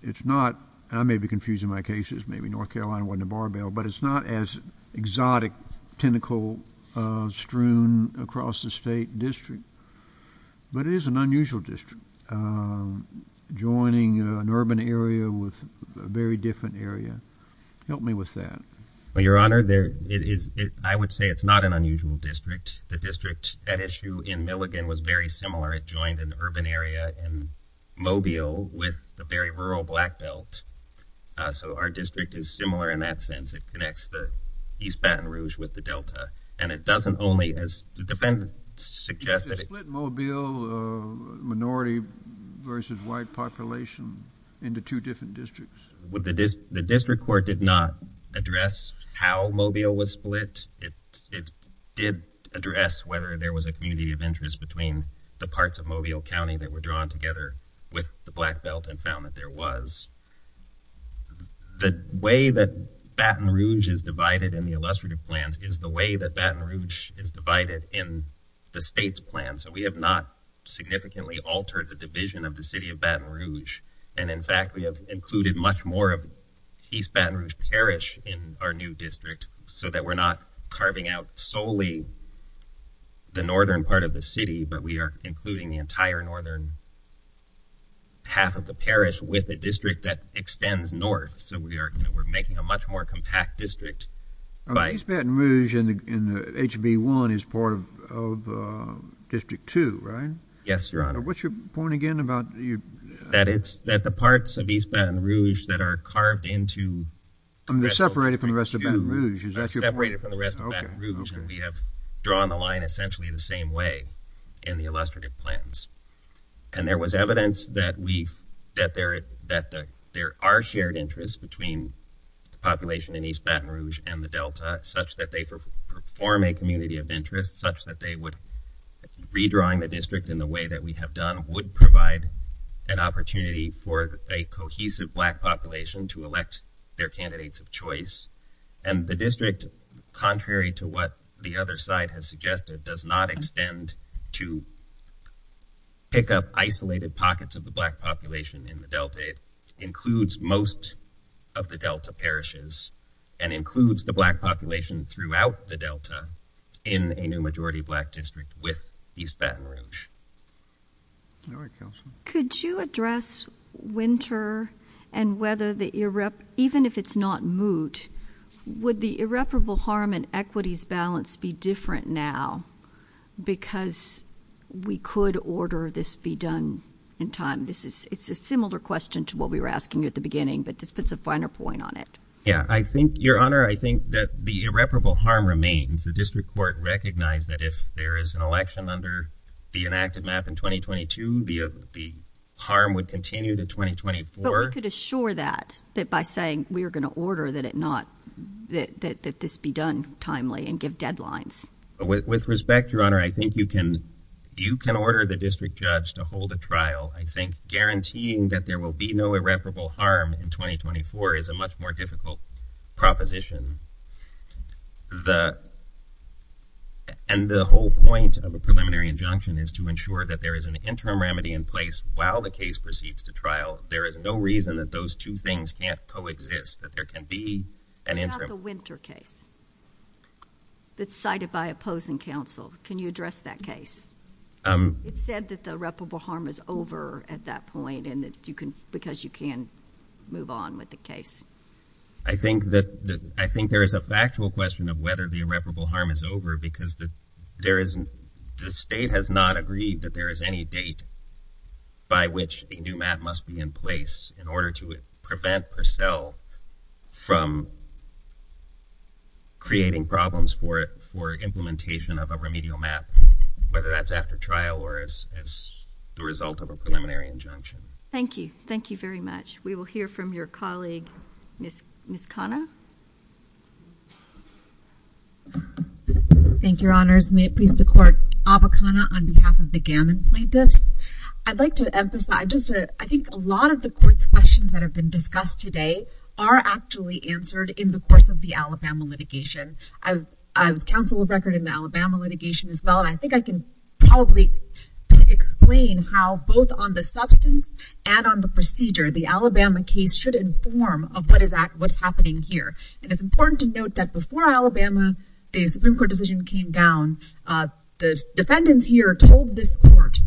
it's not... I may be confusing my cases. Maybe North Carolina wasn't in Barbell, but it's not as exotic, tentacle-strewn across the state district. But it is an unusual district. Joining an urban area with a very different area. Help me with that. Well, Your Honor, I would say it's not an unusual district. The district at issue in Milligan was very similar. It joined an urban area in Mobile with a very rural black belt. So our district is similar in that sense. It connects the East Baton Rouge with the Delta. And it doesn't only, as the defendant suggested... Split Mobile minority versus white population The district court did not address how Mobile was split. It did address whether there was a community of interest between the parts of Mobile County that were drawn together with the black belt and found that there was. The way that Baton Rouge is divided in the illustrative plan is the way that Baton Rouge is divided in the state's plan. So we have not significantly altered the division of the city of Baton Rouge. And in fact, we have included much more of East Baton Rouge Parish in our new district so that we're not carving out solely the northern part of the city, but we are including the entire northern half of the parish with a district that extends north. So we're making a much more compact district. East Baton Rouge in HB1 is part of District 2, right? Yes, Your Honor. What's your point again about... That the parts of East Baton Rouge that are carved into... Separated from the rest of Baton Rouge. We have drawn the line essentially the same way in the illustrative plans. And there was evidence that there are shared interests between the population in East Baton Rouge and the Delta such that they form a community of interest such that they would... Redrawing the district in the way that we have done would provide an opportunity for a cohesive black population to elect their candidates of choice. And the district, contrary to what the other side has suggested, does not extend to pick up isolated pockets of the black population in the Delta. It includes most of the Delta parishes and includes the black population throughout the Delta in a new majority black district with East Baton Rouge. All right, Counselor. Could you address winter and whether the... Even if it's not moot, would the irreparable harm and equities balance be different now because we could order this be done in time? It's a similar question to what we were asking at the beginning, but this puts a finer point on it. Yeah, Your Honor, I think that the irreparable harm remains. The district court recognized that if there is an election under the enacted map in 2022, the harm would continue to 2024. But we could assure that by saying we are going to order that this be done timely and give deadlines. With respect, Your Honor, I think you can order the district judge to hold a trial. I think guaranteeing that there will be no irreparable harm in 2024 is a much more difficult proposition. And the whole point of the preliminary injunction is to ensure that there is an interim remedy in place while the case proceeds to trial. There is no reason that those two things can't coexist, that there can be an interim... What about the winter case that's cited by opposing counsel? Can you address that case? It's said that the irreparable harm is over at that point because you can move on with the case. I think there is a factual question of whether the irreparable harm is over because the state has not agreed that there is any date by which a new map must be in place in order to prevent Purcell from creating problems for implementation of a remedial map, whether that's after trial or as the result of a preliminary injunction. Thank you. Thank you very much. We will hear from your colleague, Ms. Conner. Thank you, Your Honors. May it please the Court, Avakana on behalf of the Gannon plaintiffs. I'd like to emphasize, I think a lot of the quick questions that have been discussed today are actually answered in the course of the Alabama litigation. As counsel of record in the Alabama litigation as well, I think I can probably explain how both on the substance and on the procedure, the Alabama case should inform of what's happening here. And it's important to note that before Alabama, the Supreme Court decision came down, the defendants here told this court,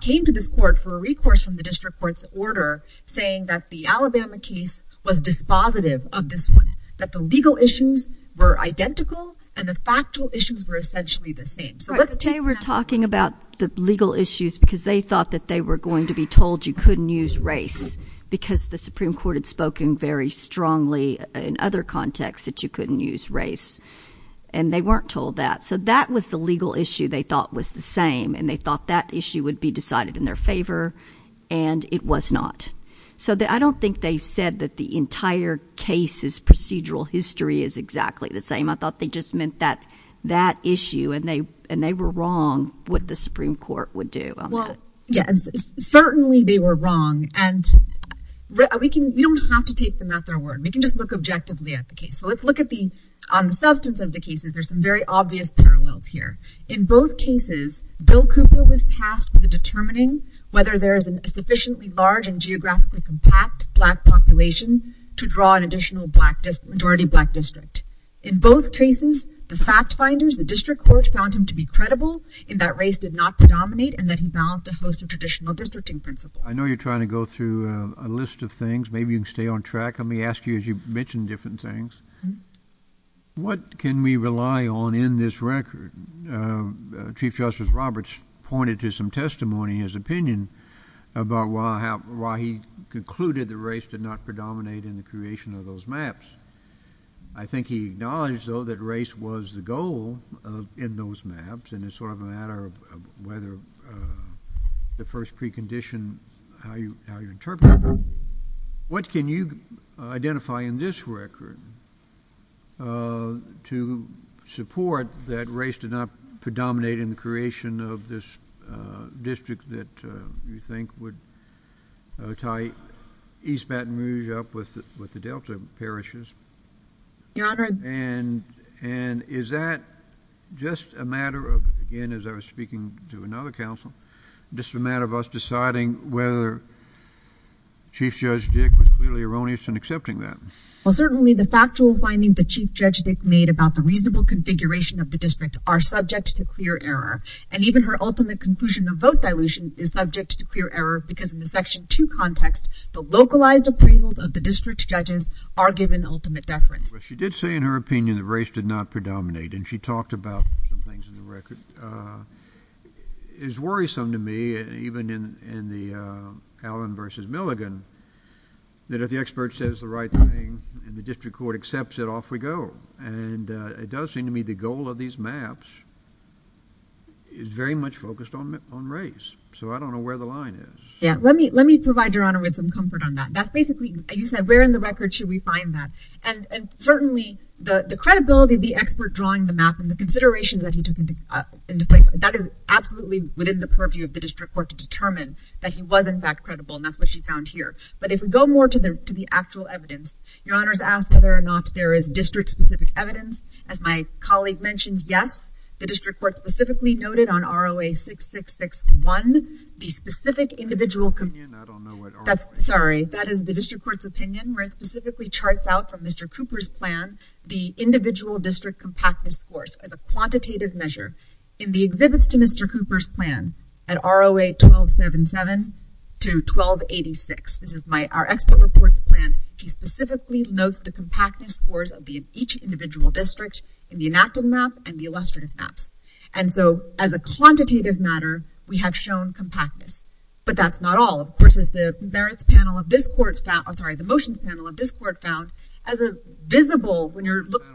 came to this court for a recourse from the district court's order, saying that the Alabama case was dispositive of this one, that the legal issues were identical and the factual issues were essentially the same. They were talking about the legal issues because they thought that they were going to be told you couldn't use race because the Supreme Court had spoken very strongly in other contexts that you couldn't use race. And they weren't told that. So that was the legal issue they thought was the same and they thought that issue would be decided in their favor and it was not. So I don't think they said that the entire case's procedural history is exactly the same. I thought they just meant that issue and they were wrong what the Supreme Court would do. Well, yes, certainly they were wrong and we don't have to keep them at their word. We can just look objectively at the case. So let's look on the substance of the cases. There's some very obvious parallels here. In both cases, Bill Cooper was tasked with determining whether there is a sufficiently large and geographically compact black population to draw an additional majority black district. In both cases, the fact finders, the district court, found him to be credible in that race did not predominate and that he balanced a host of traditional districting principles. I know you're trying to go through a list of things. Maybe you can stay on track. Let me ask you, as you've mentioned different things, what can we rely on in this record? Chief Justice Roberts pointed to some testimony in his opinion about why he concluded that race did not predominate in the creation of those maps. I think he acknowledged, though, that race was the goal in those maps and it's sort of a matter of whether the first precondition, how you interpret it. What can you identify in this record to support that race did not predominate in the creation of this district that you think would tie East Baton Rouge up with the Delta parishes? And is that just a matter of, again, as I was speaking to another counsel, just a matter of us deciding whether Chief Judge Dick was clearly erroneous in accepting that? Well, certainly the factual findings that Chief Judge Dick made about the reasonable configuration of the district are subject to clear error, and even her ultimate conclusion of vote dilution is subject to clear error because in the Section 2 context, the localized appraisals of the district's judges are given ultimate deference. But she did say in her opinion that race did not predominate, and she talked about some things in the record. It's worrisome to me, even in the Allen versus Milligan, that if the expert says the right thing and the district court accepts it, off we go. And it does seem to me the goal of these maps is very much focused on race, so I don't know where the line is. Yeah, let me provide Your Honor with some comfort on that. That's basically, you said, where in the record should we find that? And certainly the credibility of the expert drawing the map from the considerations that he took into consideration, that is absolutely within the purview of the district court to determine that he was, in fact, credible, and that's what she found here. But if we go more to the actual evidence, Your Honor is asked whether or not there is district-specific evidence. As my colleague mentioned, yes, the district court specifically noted on ROA 6661 the specific individual... I don't know what ROA is. Sorry, that is the district court's opinion, where it specifically charts out from Mr. Cooper's plan the individual district compactness scores as a quantitative measure in the exhibits to Mr. Cooper's plan at ROA 1277 to 1286. This is our expert report's plan. She specifically notes the compactness scores of each individual district in the enacted map and the illustrative map. And so, as a quantitative matter, we have shown compactness. But that's not all. Of course, as the motion panel of this court found, as a visible, when you're looking...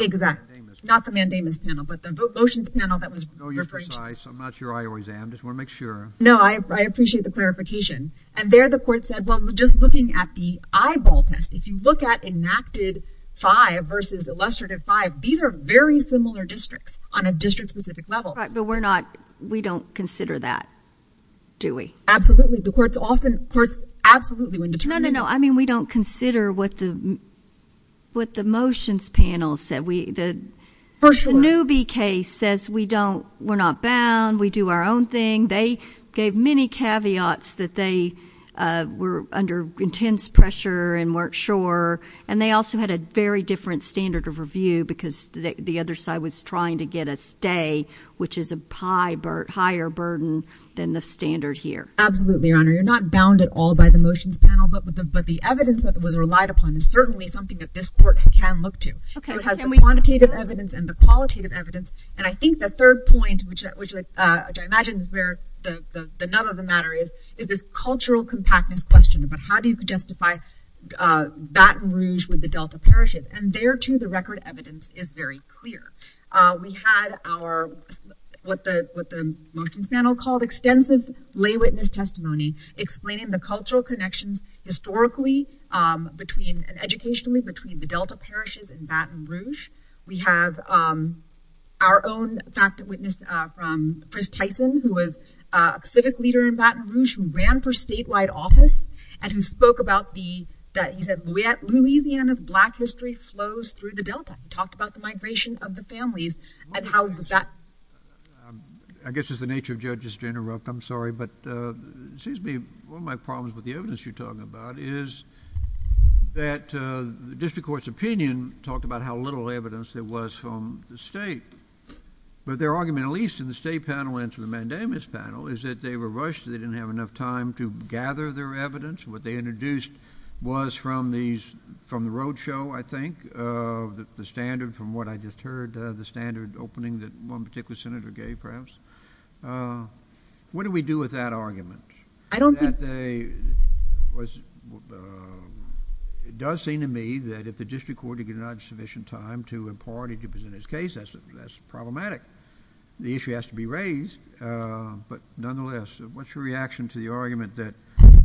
Exactly. Not the mandamus panel, but the motion panel that was... No, I appreciate the clarification. And there the court said, well, just looking at the eyeball test, if you look at enacted 5 versus illustrative 5, these are very similar districts on a district-specific level. But we're not, we don't consider that, do we? Absolutely, the court's absolutely... No, no, no, I mean, we don't consider what the motions panel said. The Newby case says we're not bound, we do our own thing. They gave many caveats that they were under intense pressure and weren't sure. And they also had a very different standard of review because the other side was trying to get a stay, which is a higher burden than the standard here. Absolutely, Your Honor. You're not bound at all by the motions panel, but the evidence that was relied upon is certainly something that this court can look to. Okay. It has the quantitative evidence and the qualitative evidence. And I think the third point, which I imagine is where the nut of the matter is, is this cultural compactness question about how do you justify Baton Rouge with the Delta Parishes? And there, too, the record evidence is very clear. We had what the motions panel called extensive lay witness testimony explaining the cultural connections historically and educationally between the Delta Parishes and Baton Rouge. We have our own fact witness, Chris Tyson, who was a civic leader in Baton Rouge who ran for statewide office and who spoke about the... He said, Louisiana's black history flows through the Delta. He talked about the migration of the families and how that... I guess it's the nature of judges to interrupt. I'm sorry. But it seems to me one of my problems with the evidence you're talking about is that the district court's opinion talked about how little evidence there was from the state. But their argument, at least in the state panel and to the mandamus panel, is that they were rushed. They didn't have enough time to gather their evidence. What they introduced was from the roadshow, I think, the standard from what I just heard, the standard opening that one particular senator gave perhaps. What do we do with that argument? I don't think... It does seem to me that if the district court did not have sufficient time to, in part, introduce this case, that's problematic. The issue has to be raised. But nonetheless, what's your reaction to the argument that the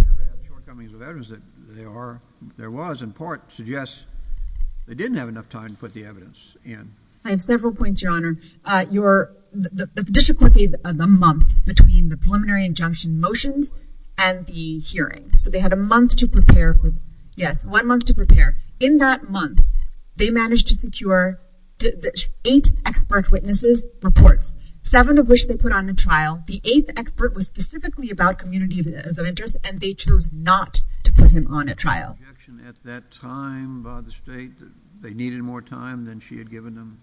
shortcomings of evidence that there are, there was, in part, suggests they didn't have enough time to put the evidence in? I have several points, Your Honor. The district court gave a month between the preliminary injunction motions and the hearings. So they had a month to prepare. Yes, one month to prepare. In that month, they managed to secure eight expert witnesses' reports, seven of which they put on the trial. and they chose not to put him on a trial. Was there an objection at that time by the state that they needed more time than she had given them?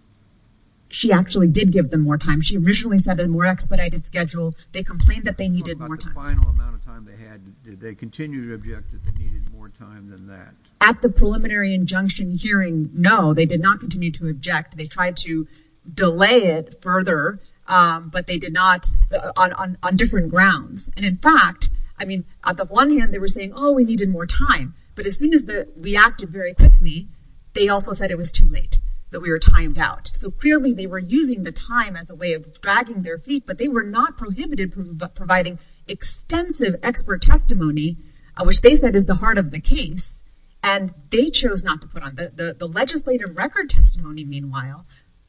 She actually did give them more time. She originally said a more expedited schedule. They complained that they needed more time. What about the final amount of time they had? Did they continue to object that they needed more time than that? At the preliminary injunction hearing, no, they did not continue to object. They tried to delay it further, but they did not on different grounds. And in fact, I mean, on the one hand, they were saying, oh, we needed more time. But as soon as they reacted very quickly, they also said it was too late, that we were timed out. So clearly, they were using the time as a way of dragging their feet, but they were not prohibited from providing extensive expert testimony, which they said is the heart of the case, and they chose not to put on. The legislative record testimony, meanwhile,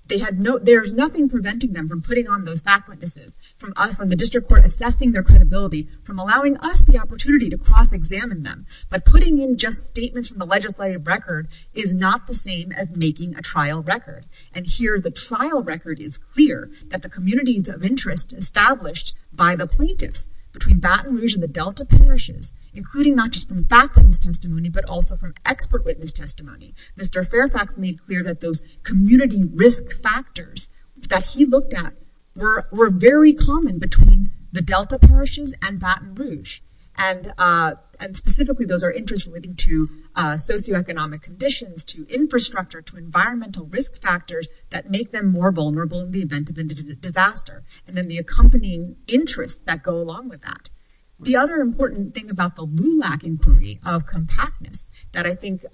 there's nothing preventing them from putting on those back witnesses, from the district court assessing their credibility, from allowing us the opportunity to cross-examine them. But putting in just statements from the legislative record is not the same as making a trial record. And here, the trial record is clear that the communities of interest established by the plaintiffs between Baton Rouge and the Delta parishes, including not just from back witness testimony, but also from expert witness testimony. Mr. Fairfax made clear that those community risk factors that he looked at were very common between the Delta parishes and Baton Rouge. And specifically, those are interests relating to socioeconomic conditions, to infrastructure, to environmental risk factors that make them more vulnerable in the event of an indigenous disaster, and then the accompanying interests that go along with that. The other important thing about the RULAC inquiry of compactness that I think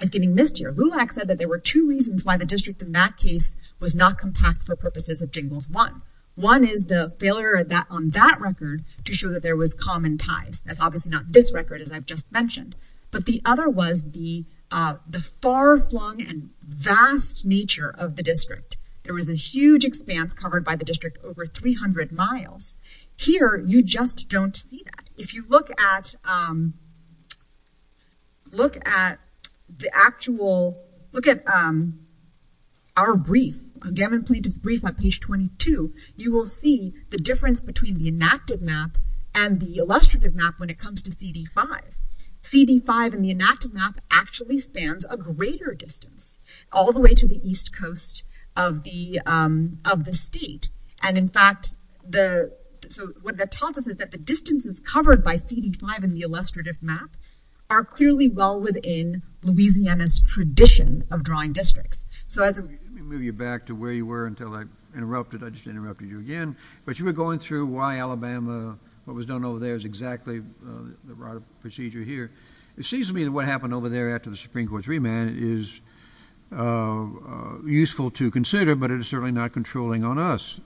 is getting missed here. RULAC said that there were two reasons why the district, in that case, was not compact for purposes of Jingles 1. One is the failure on that record to show that there was common ties. That's obviously not this record, as I've just mentioned. But the other was the far-flung and vast nature of the district. There was a huge expanse covered by the district over 300 miles. Here, you just don't see that. If you look at the actual... on page 22, you will see the difference between the inactive map and the illustrative map when it comes to CD5. CD5 in the inactive map actually spans a greater distance all the way to the east coast of the state. And in fact, what that tells us is that the distances covered by CD5 in the illustrative map are clearly well within Louisiana's tradition of drawing districts. So I have to move you back to where you were until I interrupted. I just interrupted you again. But you were going through why Alabama, what was done over there is exactly the right procedure here. It seems to me that what happened over there after the Supreme Court's remand is useful to consider, but it is certainly not controlling on us.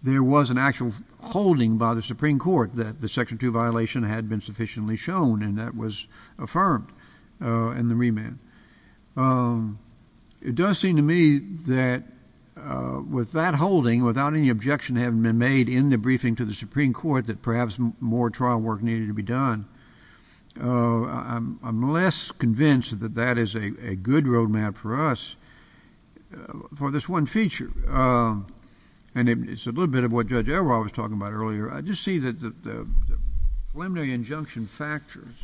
There was an actual holding by the Supreme Court that the Section 2 violation had been sufficiently shown, and that was affirmed in the remand. It does seem to me that with that holding, without any objection having been made in the briefing to the Supreme Court that perhaps more trial work needed to be done, I'm less convinced that that is a good road map for us for this one feature. And it's a little bit of what Judge Elroy was talking about earlier. I just see that the preliminary injunction factors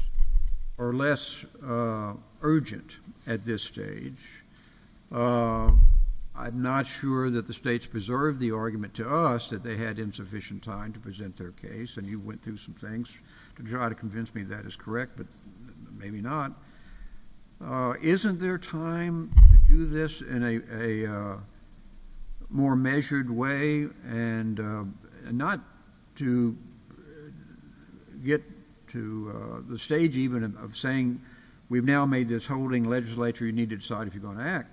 are less urgent at this stage. I'm not sure that the states preserved the argument to us that they had insufficient time to present their case, and you went through some things to try to convince me that is correct, but maybe not. Isn't there time to do this in a more measured way and not to get to the stage even of saying, we've now made this holding legislature, you need to decide if you're going to act,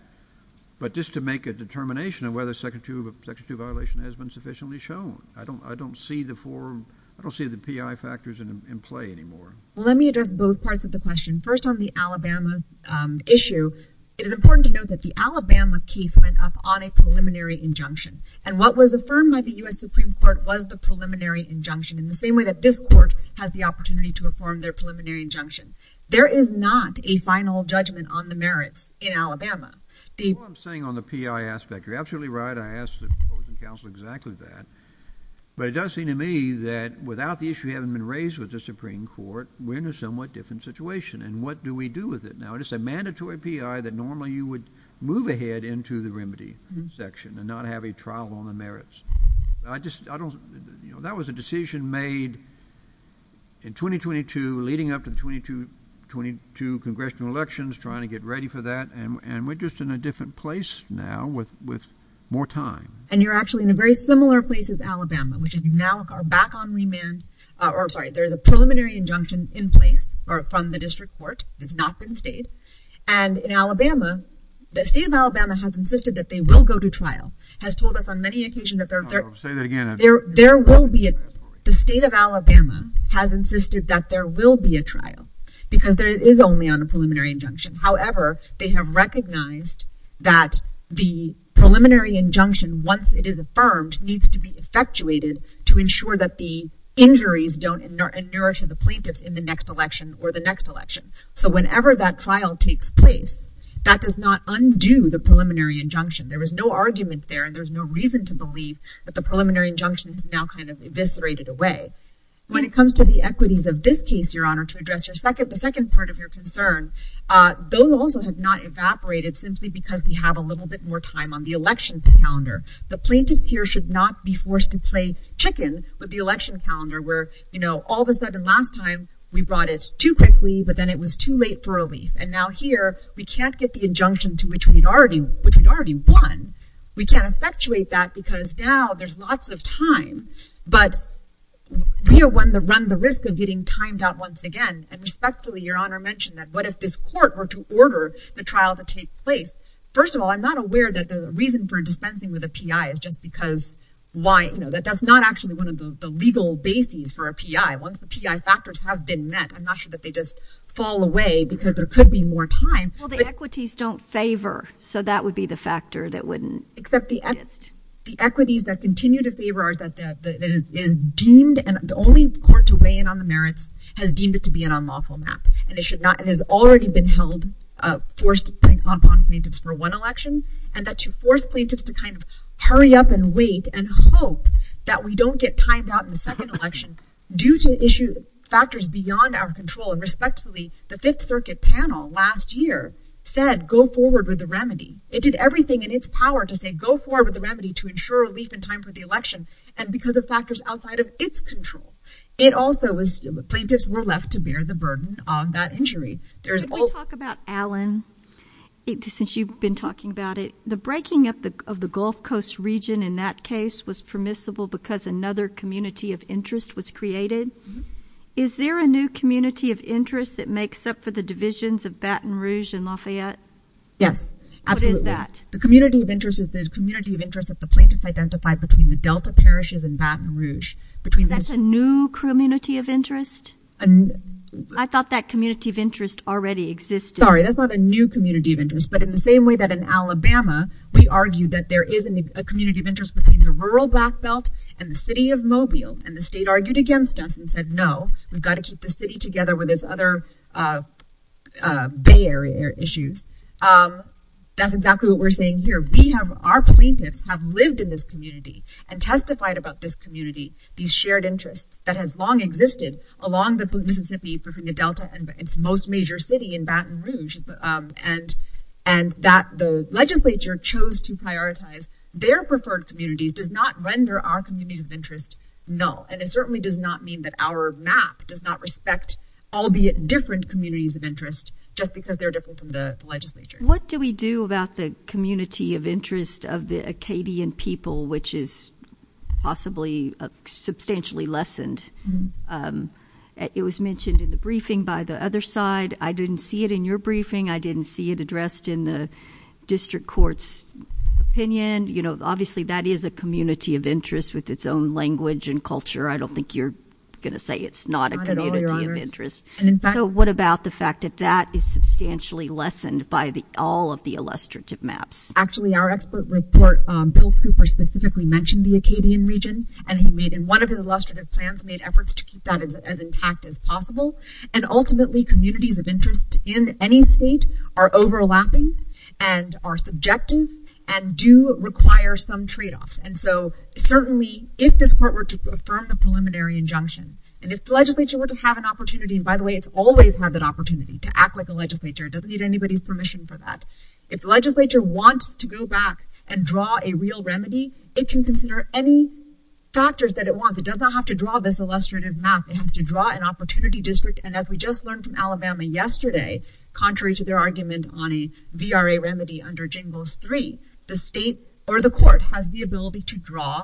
but just to make a determination of whether Section 2 violation has been sufficiently shown. I don't see the PI factors in play anymore. Let me address both parts of the question. First on the Alabama issue, it is important to note that the Alabama case went up on a preliminary injunction, and what was affirmed by the U.S. Supreme Court was the preliminary injunction, in the same way that this Court has the opportunity to affirm their preliminary injunction. There is not a final judgment on the merits in Alabama. What I'm saying on the PI aspect, you're absolutely right, I asked the Court of Counsel exactly that, but it does seem to me that without the issue having been raised with the Supreme Court, we're in a somewhat different situation, and what do we do with it now? It's a mandatory PI that normally you would move ahead into the remedy section, and not have a trial on the merits. That was a decision made in 2022, leading up to the 2022 congressional elections, trying to get ready for that, and we're just in a different place now with more time. And you're actually in a very similar place as Alabama, which is now back on remand, or sorry, there's a preliminary injunction in place from the district court, has not been stayed, and in Alabama, the state of Alabama has insisted that they will go to trial, has told us on many occasions that there will be a trial. The state of Alabama has insisted that there will be a trial, because it is only on the preliminary injunction. However, they have recognized that the preliminary injunction, once it is affirmed, needs to be effectuated to ensure that the injuries don't nourish the plaintiffs in the next election, or the next election. So whenever that trial takes place, that does not undo the preliminary injunction. There is no argument there, and there's no reason to believe that the preliminary injunction is now kind of eviscerated away. When it comes to the equities of this case, Your Honor, to address the second part of your concern, those also have not evaporated simply because we have a little bit more time on the election calendar. The plaintiffs here should not be forced to play chicken with the election calendar, where all of a sudden last time, we brought it too quickly, but then it was too late for relief. And now here, we can't get the injunction to which we'd already won. We can't effectuate that, because now there's lots of time. But we are willing to run the risk of getting timed out once again. And respectfully, Your Honor mentioned that what if this court were to order the trial to take place? First of all, I'm not aware that the reason for dispensing with a PI is just because... That's not actually one of the legal bases for a PI. Once the PI factors have been met, I'm not sure that they just fall away, because there could be more time. Well, the equities don't favor, so that would be the factor that wouldn't exist. Except the equities that continue to favor are deemed... The only court to weigh in on the merits has deemed it to be an unlawful match. It has already been held, forced upon plaintiffs for one election, and that you force plaintiffs to kind of hurry up and wait and hope that we don't get timed out in the second election due to factors beyond our control. And respectfully, the Fifth Circuit panel last year said, go forward with the remedy. It did everything in its power to say, go forward with the remedy to ensure relief in time for the election and because of factors outside of its control. It also was... Plaintiffs were left to bear the burden of that injury. There's... Can we talk about Allen? Since you've been talking about it. The breaking up of the Gulf Coast region in that case was permissible because another community of interest was created. Is there a new community of interest that makes up for the divisions of Baton Rouge and Lafayette? Yes, absolutely. What is that? The community of interest is the community of interest that the plaintiffs identified between the Delta parishes and Baton Rouge. That's a new community of interest? I thought that community of interest already existed. Sorry, that's not a new community of interest, but in the same way that in Alabama, we argue that there is a community of interest between the rural Black Belt and the city of Mobile, and the state argued against us and said, no, we've got to keep the city together where there's other Bay Area issues. That's exactly what we're saying here. We have... Our plaintiffs have lived in this community and testified about this community, these shared interests, that has long existed along the Mississippi, between the Delta and its most major city in Baton Rouge, and that the legislature chose to prioritize their preferred communities does not render our community of interest null, and it certainly does not mean that our map does not respect all the different communities of interest just because they're different from the legislature. What do we do about the community of interest of the Acadian people, which is possibly substantially lessened? It was mentioned in the briefing by the other side. I didn't see it in your briefing. I didn't see it addressed in the district court's opinion. You know, obviously, that is a community of interest with its own language and culture. I don't think you're going to say it's not a community of interest. So what about the fact that that is substantially lessened by all of the illustrative maps? Actually, our expert report, Bill Cooper specifically mentioned the Acadian region, and he made, in one of his illustrative plans, made efforts to keep that as intact as possible. And ultimately, communities of interest in any state are overlapping and are subjective and do require some trade-offs. And so, certainly, if this court were to affirm the preliminary injunction, and if the legislature were to have an opportunity, and by the way, it's always had that opportunity to act with the legislature. It doesn't need anybody's permission for that. If the legislature wants to go back and draw a real remedy, it can consider any factors that it wants. It does not have to draw this illustrative map. It has to draw an opportunity district. And as we just learned from Alabama yesterday, contrary to their argument on a VRA remedy under JINGOS 3, the state or the court has the ability to draw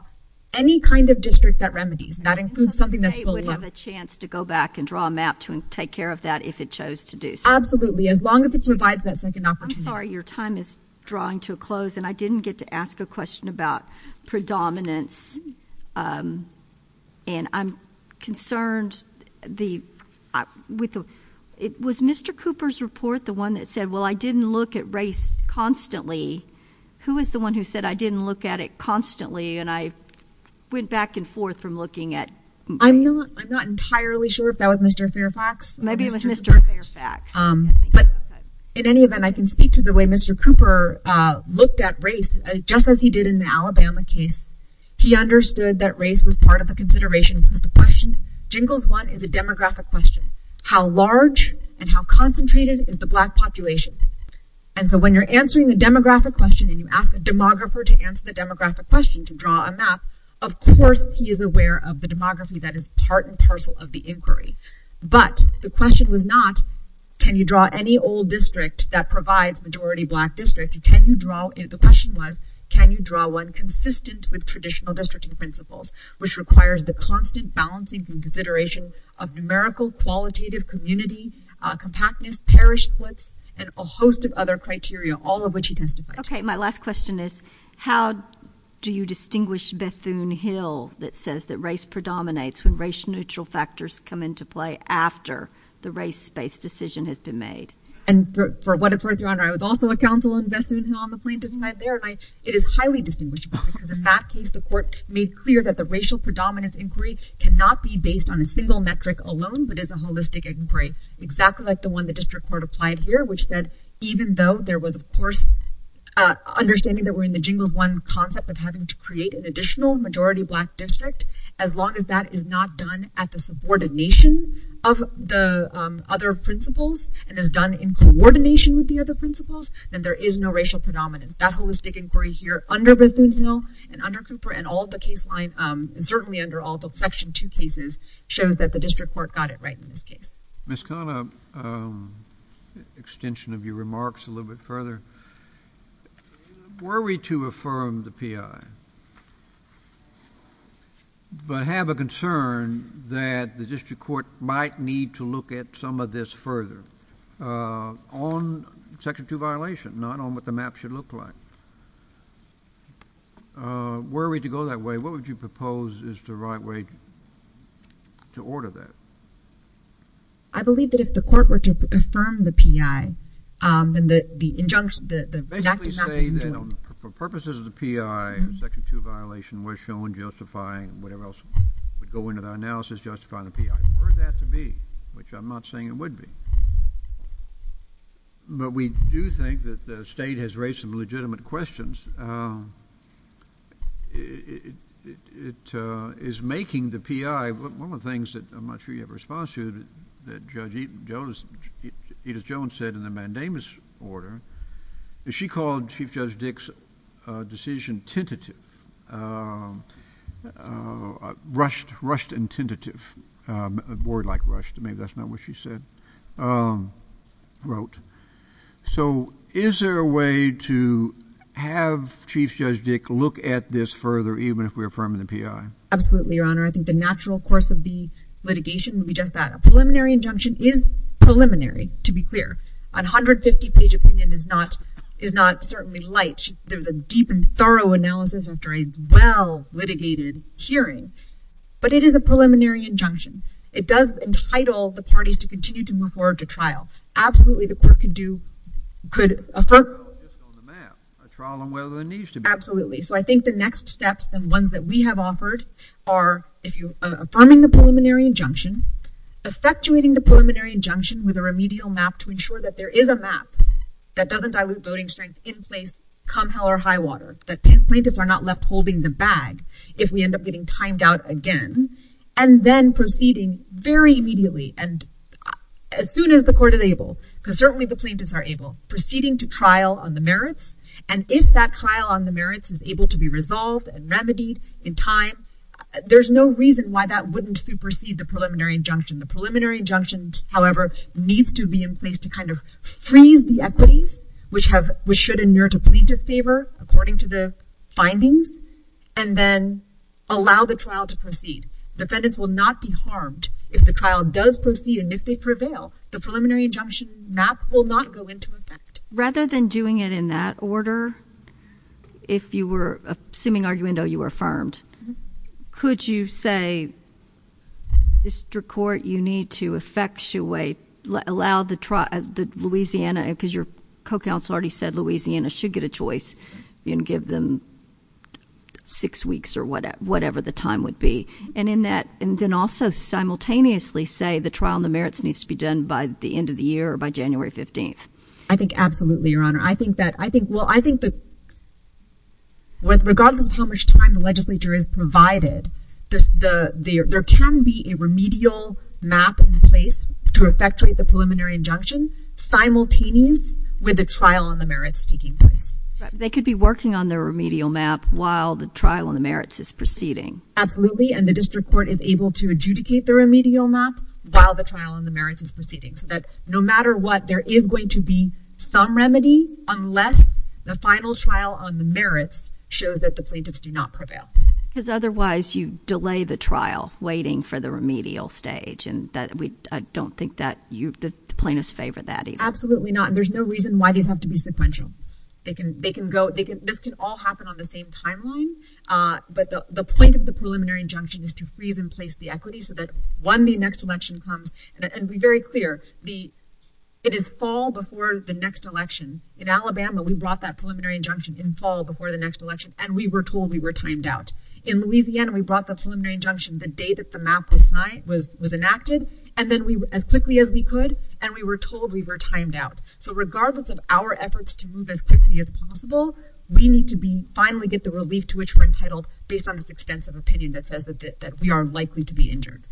any kind of district that remedies. That includes something that's fully... It would have a chance to go back and draw a map to take care of that if it chose to do so. Absolutely. As long as it provides that second opportunity. I'm sorry. Your time is drawing to a close, and I didn't get to ask a question about predominance. And I'm concerned the... Was Mr. Cooper's report the one that said, well, I didn't look at race constantly? Who is the one who said I didn't look at it constantly, and I went back and forth from looking at... I'm not entirely sure if that was Mr. Fairfax. Maybe it was Mr. Fairfax. But in any event, I can speak to the way Mr. Cooper looked at race just as he did in the Alabama case. He understood that race was part of a consideration for the question. JINGOS 1 is a demographic question. How large and how concentrated is the black population? And so when you're answering a demographic question and you ask a demographer to answer the demographic question to draw a map, of course he is aware of the demography that is part and parcel of the inquiry. But the question was not, can you draw any old district that provides majority black districts? Can you draw... The question was, can you draw one consistent with traditional districting principles, which requires the constant balancing and consideration of numerical, qualitative, community, compactness, parish splits, and a host of other criteria, all of which he testified to. Okay, my last question is, how do you distinguish Bethune Hill that says that race predominates when race-neutral factors come into play after the race-based decision has been made? And for what it's worth, Your Honor, I was also a counsel in Bethune Hill on the plaintiff's side there, and it is highly distinguishable because in that case the court made clear that the racial predominance inquiry cannot be based on a single metric alone but is a holistic inquiry, exactly like the one the district court applied here, which said even though there was, of course, understanding that we're in the jingles one concept of having to create an additional majority black district, as long as that is not done at the subordination of the other principles and is done in coordination with the other principles, then there is no racial predominance. That holistic inquiry here under Bethune Hill and under Cooper and all of the case lines, and certainly under all the Section 2 cases, shows that the district court got it right in this case. Ms. Connell, extension of your remarks a little bit further, were we to affirm the P.I., but have a concern that the district court might need to look at some of this further on Section 2 violation, not on what the map should look like. Were we to go that way, what would you propose is the right way to order that? I believe that if the court were to affirm the P.I., then the injunction, the act is not... Basically saying for purposes of the P.I., Section 2 violation was shown justifying whatever else would go into the analysis justifying the P.I. I prefer that to be, which I'm not saying it would be. But we do think that the state has raised some legitimate questions. It is making the P.I., one of the things that I'm not sure you have a response to, that Judge Edith Jones said in the mandamus order, is she called Chief Judge Dick's decision tentative, rushed and tentative, a word like rushed, maybe that's not what she said, wrote. So, is there a way to have Chief Judge Dick look at this further even if we're affirming the P.I.? Absolutely, Your Honor. I think the natural course of the litigation would be just that. A preliminary injunction is preliminary, to be clear. A 150-page opinion is not certainly light. There's a deep and thorough analysis after a well-litigated hearing. But it is a preliminary injunction. It does entitle the parties to continue to move forward to trial. Absolutely, the court could do, could affirm... Absolutely. So, I think the next steps and ones that we have offered are affirming the preliminary injunction, effectuating the preliminary injunction with a remedial map to ensure that there is a map that doesn't dilute voting strength in place come hell or high water, that plaintiffs are not left holding the bag if we end up getting timed out again, and then proceeding very immediately and as soon as the court enables, because certainly the plaintiffs are able, proceeding to trial on the merits, and if that trial on the merits is able to be resolved and remedied in time, there's no reason why that wouldn't supersede the preliminary injunction. The preliminary injunction, however, needs to be in place to kind of freeze the equities which have, which should endure to plaintiff's favor according to the findings, and then allow the trial to proceed. Defendants will not be harmed if the trial does proceed and if they prevail. The preliminary injunction map will not go into effect. Rather than doing it in that order, if you were, assuming arguendo, you were affirmed, could you say, District Court, you need to effectuate, allow the trial, Louisiana, because your co-counsel already said Louisiana should get a choice and give them six weeks or whatever the time would be, and in that, and then also simultaneously say the trial on the merits needs to be done by the end of the year or by January 15th. I think absolutely, Your Honor. I think that, well, I think that regardless of how much time the legislature has provided, there can be a remedial map in place to effectuate the preliminary injunction simultaneous with the trial on the merits taking place. They could be working on the remedial map while the trial on the merits is proceeding. Absolutely, and the District Court is able to adjudicate the remedial map while the trial on the merits is proceeding, so that no matter what, there is going to be some remedy unless the final trial on the merits shows that the plaintiffs do not prevail. Because otherwise, you delay the trial waiting for the remedial stage, and I don't think that the plaintiffs favor that either. Absolutely not, and there's no reason why they have to be sequential. They can go, this can all happen on the same timeline, but the point of the preliminary injunction is to freeze in place the equity so that when the next election comes, and be very clear, it is fall before the next election. In Alabama, we brought that preliminary injunction in fall before the next election, and we were told we were timed out. In Louisiana, we brought the preliminary injunction the day that the map was enacted, and then as quickly as we could, and we were told we were timed out. So regardless of our efforts to move as quickly as possible, we need to finally get the relief to which we're entitled based on this extensive opinion that says that we are likely to be injured.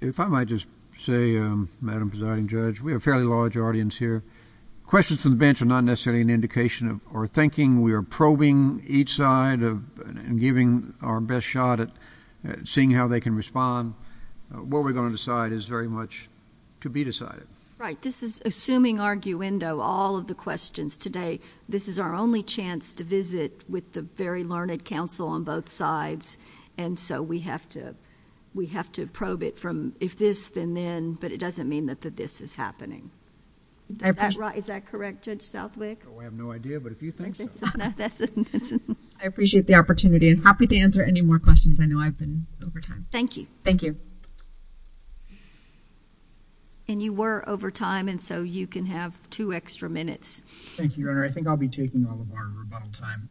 If I might just say, Madam Presiding Judge, we have a fairly large audience here. Questions from the bench are not necessarily an indication of our thinking. We are probing each side and giving our best shot at seeing how they can respond. What we're going to decide is very much to be decided. Right. This is assuming arguendo all of the questions today. This is our only chance to visit with the very learned counsel on both sides, and so we have to probe it from if this, then then, but it doesn't mean that the this is happening. I have no idea, but if you think so. I appreciate the opportunity and happy to answer any more questions. I know I've been over time. Thank you. Thank you. And you were over time, and so you can have two extra minutes. Thank you, Your Honor. I think I'll be taking all of our rebuttal time.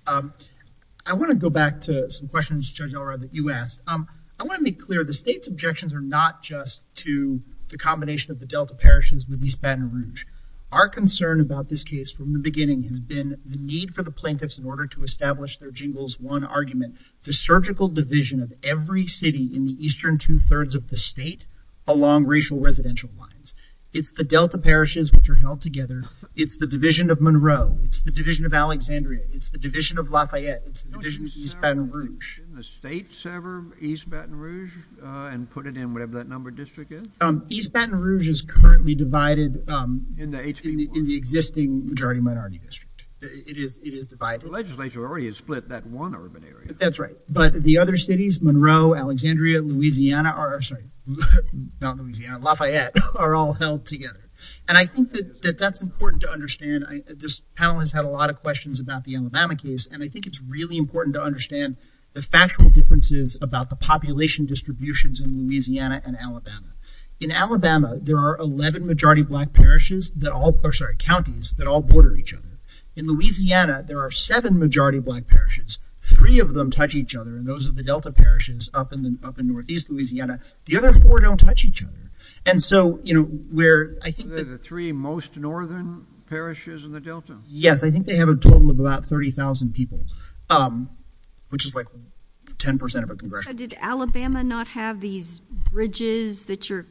I want to go back to some questions, Judge Elrod, that you asked. I want to be clear. The state's objections are not just to the combination of the Delta parishes with East Baton Rouge. Our concern about this case from the beginning has been the need for the plaintiffs in order to establish their Jingles 1 argument to surgical division of every city in the eastern two-thirds of the state along racial residential lines. It's the Delta parishes which are held together. It's the division of Monroe. It's the division of Alexandria. It's the division of Lafayette. It's the division of East Baton Rouge. The state sever East Baton Rouge and put it in whatever that number district is? East Baton Rouge is currently divided in the existing majority minority district. It is divided. The legislature already has split that one urban area. That's right. But the other cities, Monroe, Alexandria, Louisiana, sorry, not Louisiana, Lafayette are all held together. And I think that that's important to understand. This panel has had a lot of questions about the Alabama case and I think it's really important to understand the factual differences about the population distributions in Louisiana and Alabama. In Alabama, there are 11 majority black parishes that all, sorry, counties that all border each other. In Louisiana, there are seven majority black parishes. Three of them touch each other and those are the Delta parishes up in northeast Louisiana. The other four don't touch each other. And so, you know, where I think the three most northern parishes in the Delta. Yes, I think they have a total of about 30,000 people which is like 10% of a congressional. Did Alabama not have these bridges that you're,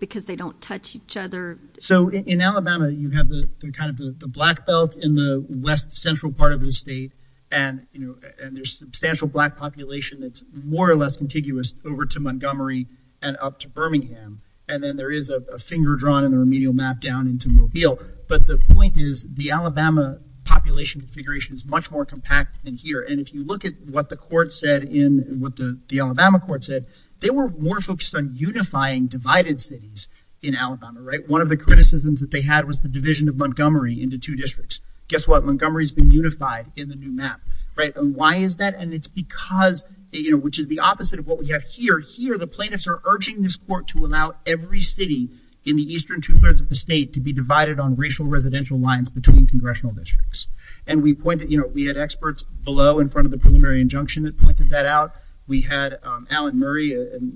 because they don't touch each other? So in Alabama, you have the kind of the black belt in the west central part of the state and, you know, and there's substantial black population that's more or less contiguous over to Montgomery and up to Birmingham. And then there is a finger drawn in the remedial map down into Mobile. But the point is the Alabama population configuration is much more compact than here. And if you look at what the court said in, what the Alabama court said, they were more focused on unifying divided cities in Alabama, right? One of the criticisms that they had was the division of Montgomery into two districts. Guess what? Montgomery's been unified in the new map, right? And why is that? And it's because, you know, which is the opposite of what we have here. Here, the plaintiffs are urging this court to allow every city in the eastern two-thirds of the state to be divided on racial residential lines between congressional districts. And we pointed, you know, we had experts below in front of the preliminary injunction that pointed that out. We had Alan Murray,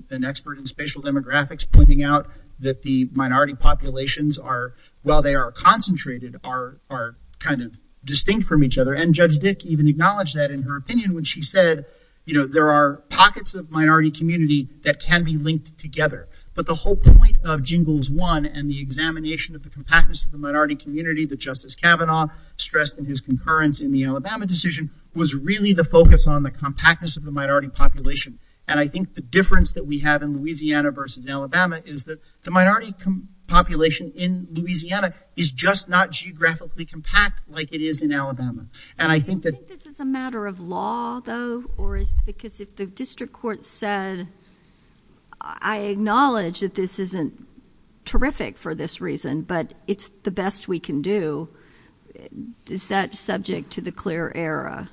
an expert in spatial demographics, pointing out that the minority populations are, while they are concentrated, are, kind of, distinct from each other. And Judge Dick even acknowledged that in her opinion when she said, you know, there are pockets of minority community that can be linked together. But the whole point of Jingles 1 and the examination of the compactness of the minority community that Justice Kavanaugh stressed in his concurrence in the Alabama decision was really the focus on the compactness of the minority population. And I think the difference that we have in Louisiana versus Alabama is that the minority population in Louisiana is just not geographically compact like it is in Alabama. And I think that... This is a matter of law, though, or is it because if the district court said, I acknowledge that this isn't terrific for this reason, but it's the best we can do, is that subject to the clear error?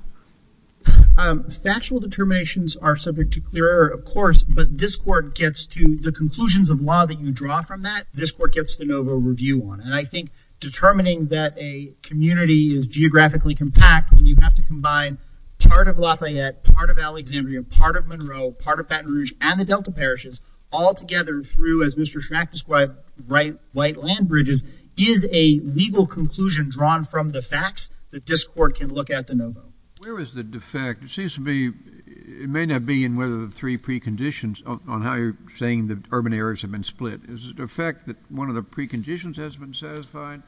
Um, factual determinations are subject to clear error, of course, but this court gets to the conclusions of law that you draw from that, this court gets the NOVO review on. And I think determining that a community is geographically compact when you have to combine part of Lafayette, part of Alexandria, part of Monroe, part of Baton Rouge, and the Delta parishes all together through, as Mr. Schmack described, white land bridges is a legal conclusion drawn from the facts that this court can look at the NOVO. Where is the defect? It seems to be... It may not be in one of the three preconditions on how you're saying that urban areas have been split. Is it a fact that one of the preconditions has been satisfied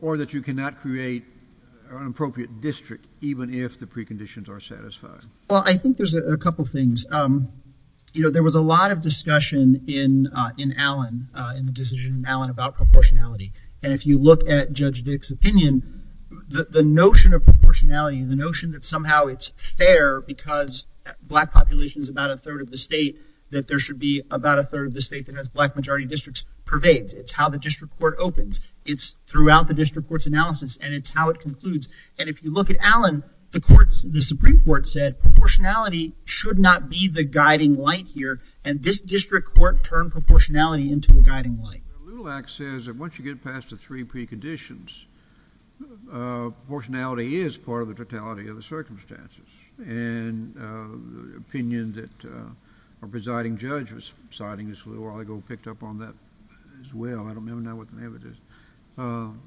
or that you cannot create an appropriate district even if the preconditions are satisfied? Well, I think there's a couple things. You know, there was a lot of discussion in Allen, in the decision in Allen about proportionality. And if you look at Judge Dick's opinion, the notion of proportionality and the notion that somehow it's fair because black population is about a third of the state that there should be about a third of the state that black majority districts pervade. It's how the district court opens. It's throughout the district court's analysis and it's how it concludes. And if you look at Allen, the Supreme Court said proportionality should not be the guiding light here and this district court turned proportionality into a guiding light. The Little Act says that once you get past the three preconditions, proportionality is part of the totality of the circumstances. And the opinion that a presiding judge was citing a little while ago picked up on that as well. I don't know what the name of it is.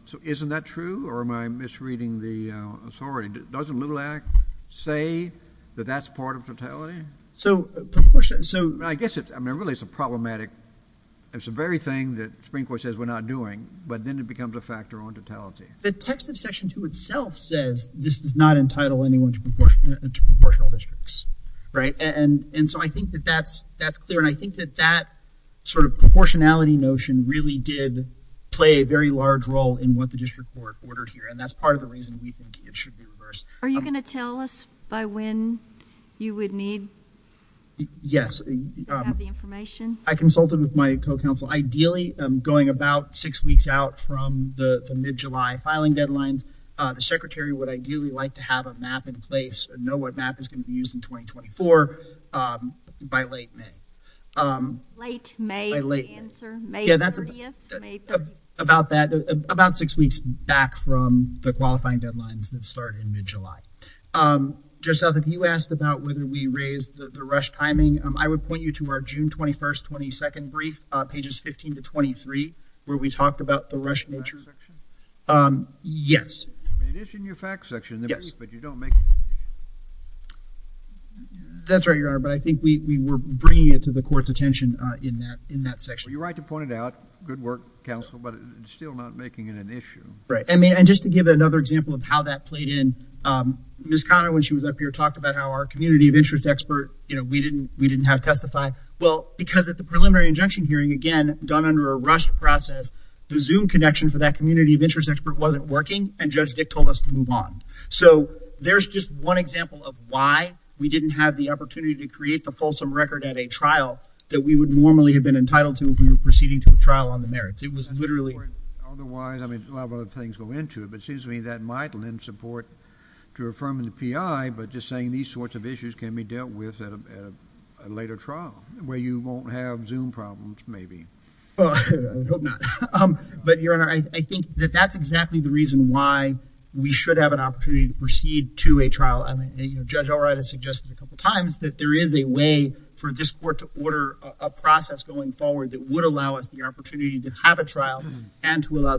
So isn't that true or am I misreading the, I'm sorry, doesn't Little Act say that that's part of totality? So I guess it's, I mean really it's a problematic, it's the very thing that the Supreme Court says we're not doing but then it becomes a factor on totality. The text of section two itself says this does not entitle anyone to proportional districts, right? And so I think that that's clear and I think that that sort of proportionality notion really did play a very large role in what the district court ordered here. And that's part of the reason we think it should be reversed. Are you going to tell us by when you would need the information? Yes. I consulted with my co-counsel. Ideally going about six weeks out from the mid-July filing deadline, the secretary would ideally like to have a map in place and know what map is going to be used in 2024 by late May. Late May answer, May 30th? About that, about six weeks back from the qualifying deadline that started in mid-July. Joseph, if you asked about whether we raised the rush timing, I would point you to our June 21st, 22nd brief pages 15 to 23 where we talked about the rush Is that in your facts section? Yes. It is in your facts section, but you don't make... That's right, Your Honor, but I think we were bringing it to the court's attention in that section. You're right to point it out. Good work, counsel, but still not making it an issue. Right. And just to give another example of how that issue was raised, I think it's important to point out that we didn't have the opportunity to create a fulsome record at a trial that we would normally have been entitled to if we were proceeding to a trial on the merits. It was literally... Otherwise, I mean, a lot of other things go into it, but it seems to me that might lend support to affirming the P.I., but just saying these sorts of issues can be dealt with at a later trial where you won't have Zoom problems, maybe. But, Your Honor, I think that that's a good it's important to have a trial and to allow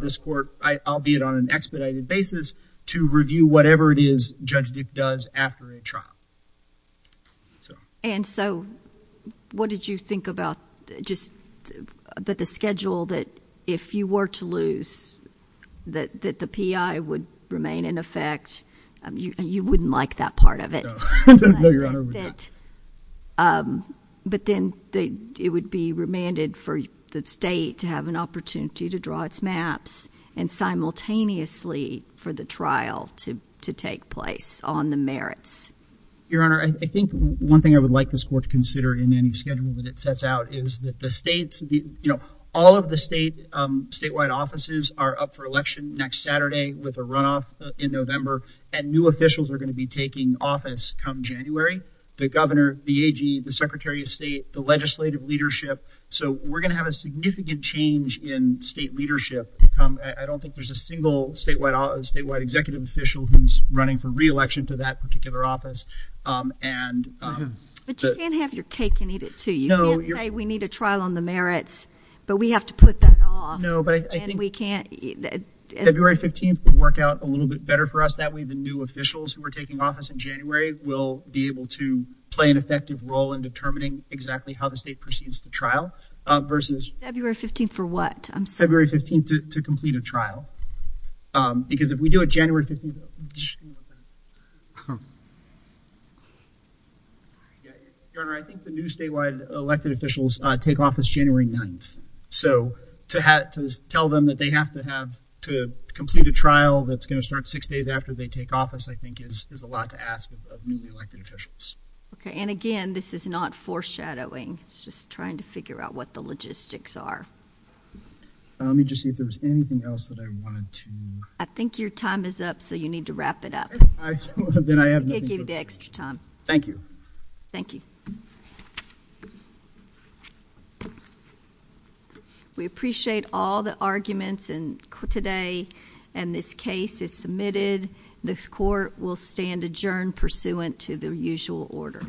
this court, albeit on an expedited basis, to review whatever it is Judge Duke does after a trial. And so what did you think about the schedule that if you were to lose that the court would be remanded for the state to have an opportunity to draw its maps and simultaneously for the trial to take place on the merits? Your Honor, I think one thing I would like this court to consider in any schedule that it sets out is that the state statewide offices are up for trial. So we're going to have a significant change in state leadership. I don't think there's a single statewide executive official who's running for reelection to that particular office. But you can't have your cake and eat it too. We need a trial on the merits, but we have to put that off. February 15th would work out a little bit better for us. That way the new officials who are taking office in January will be able to play an effective role in determining exactly how the state proceeds to trial versus February 15th to complete a trial. Because if we do a January 15th trial, I think the new statewide elected officials take office January 9th. So to tell them that they have to complete a trial that's going to start six days after they take office, I think there's a lot to ask. Again, this is not foreshadowing. It's just trying to figure out what the logistics are. I think your time is up, so you need to wrap it up. We appreciate all the arguments today, and this case is submitted. This court will stand adjourned pursuant to the usual order.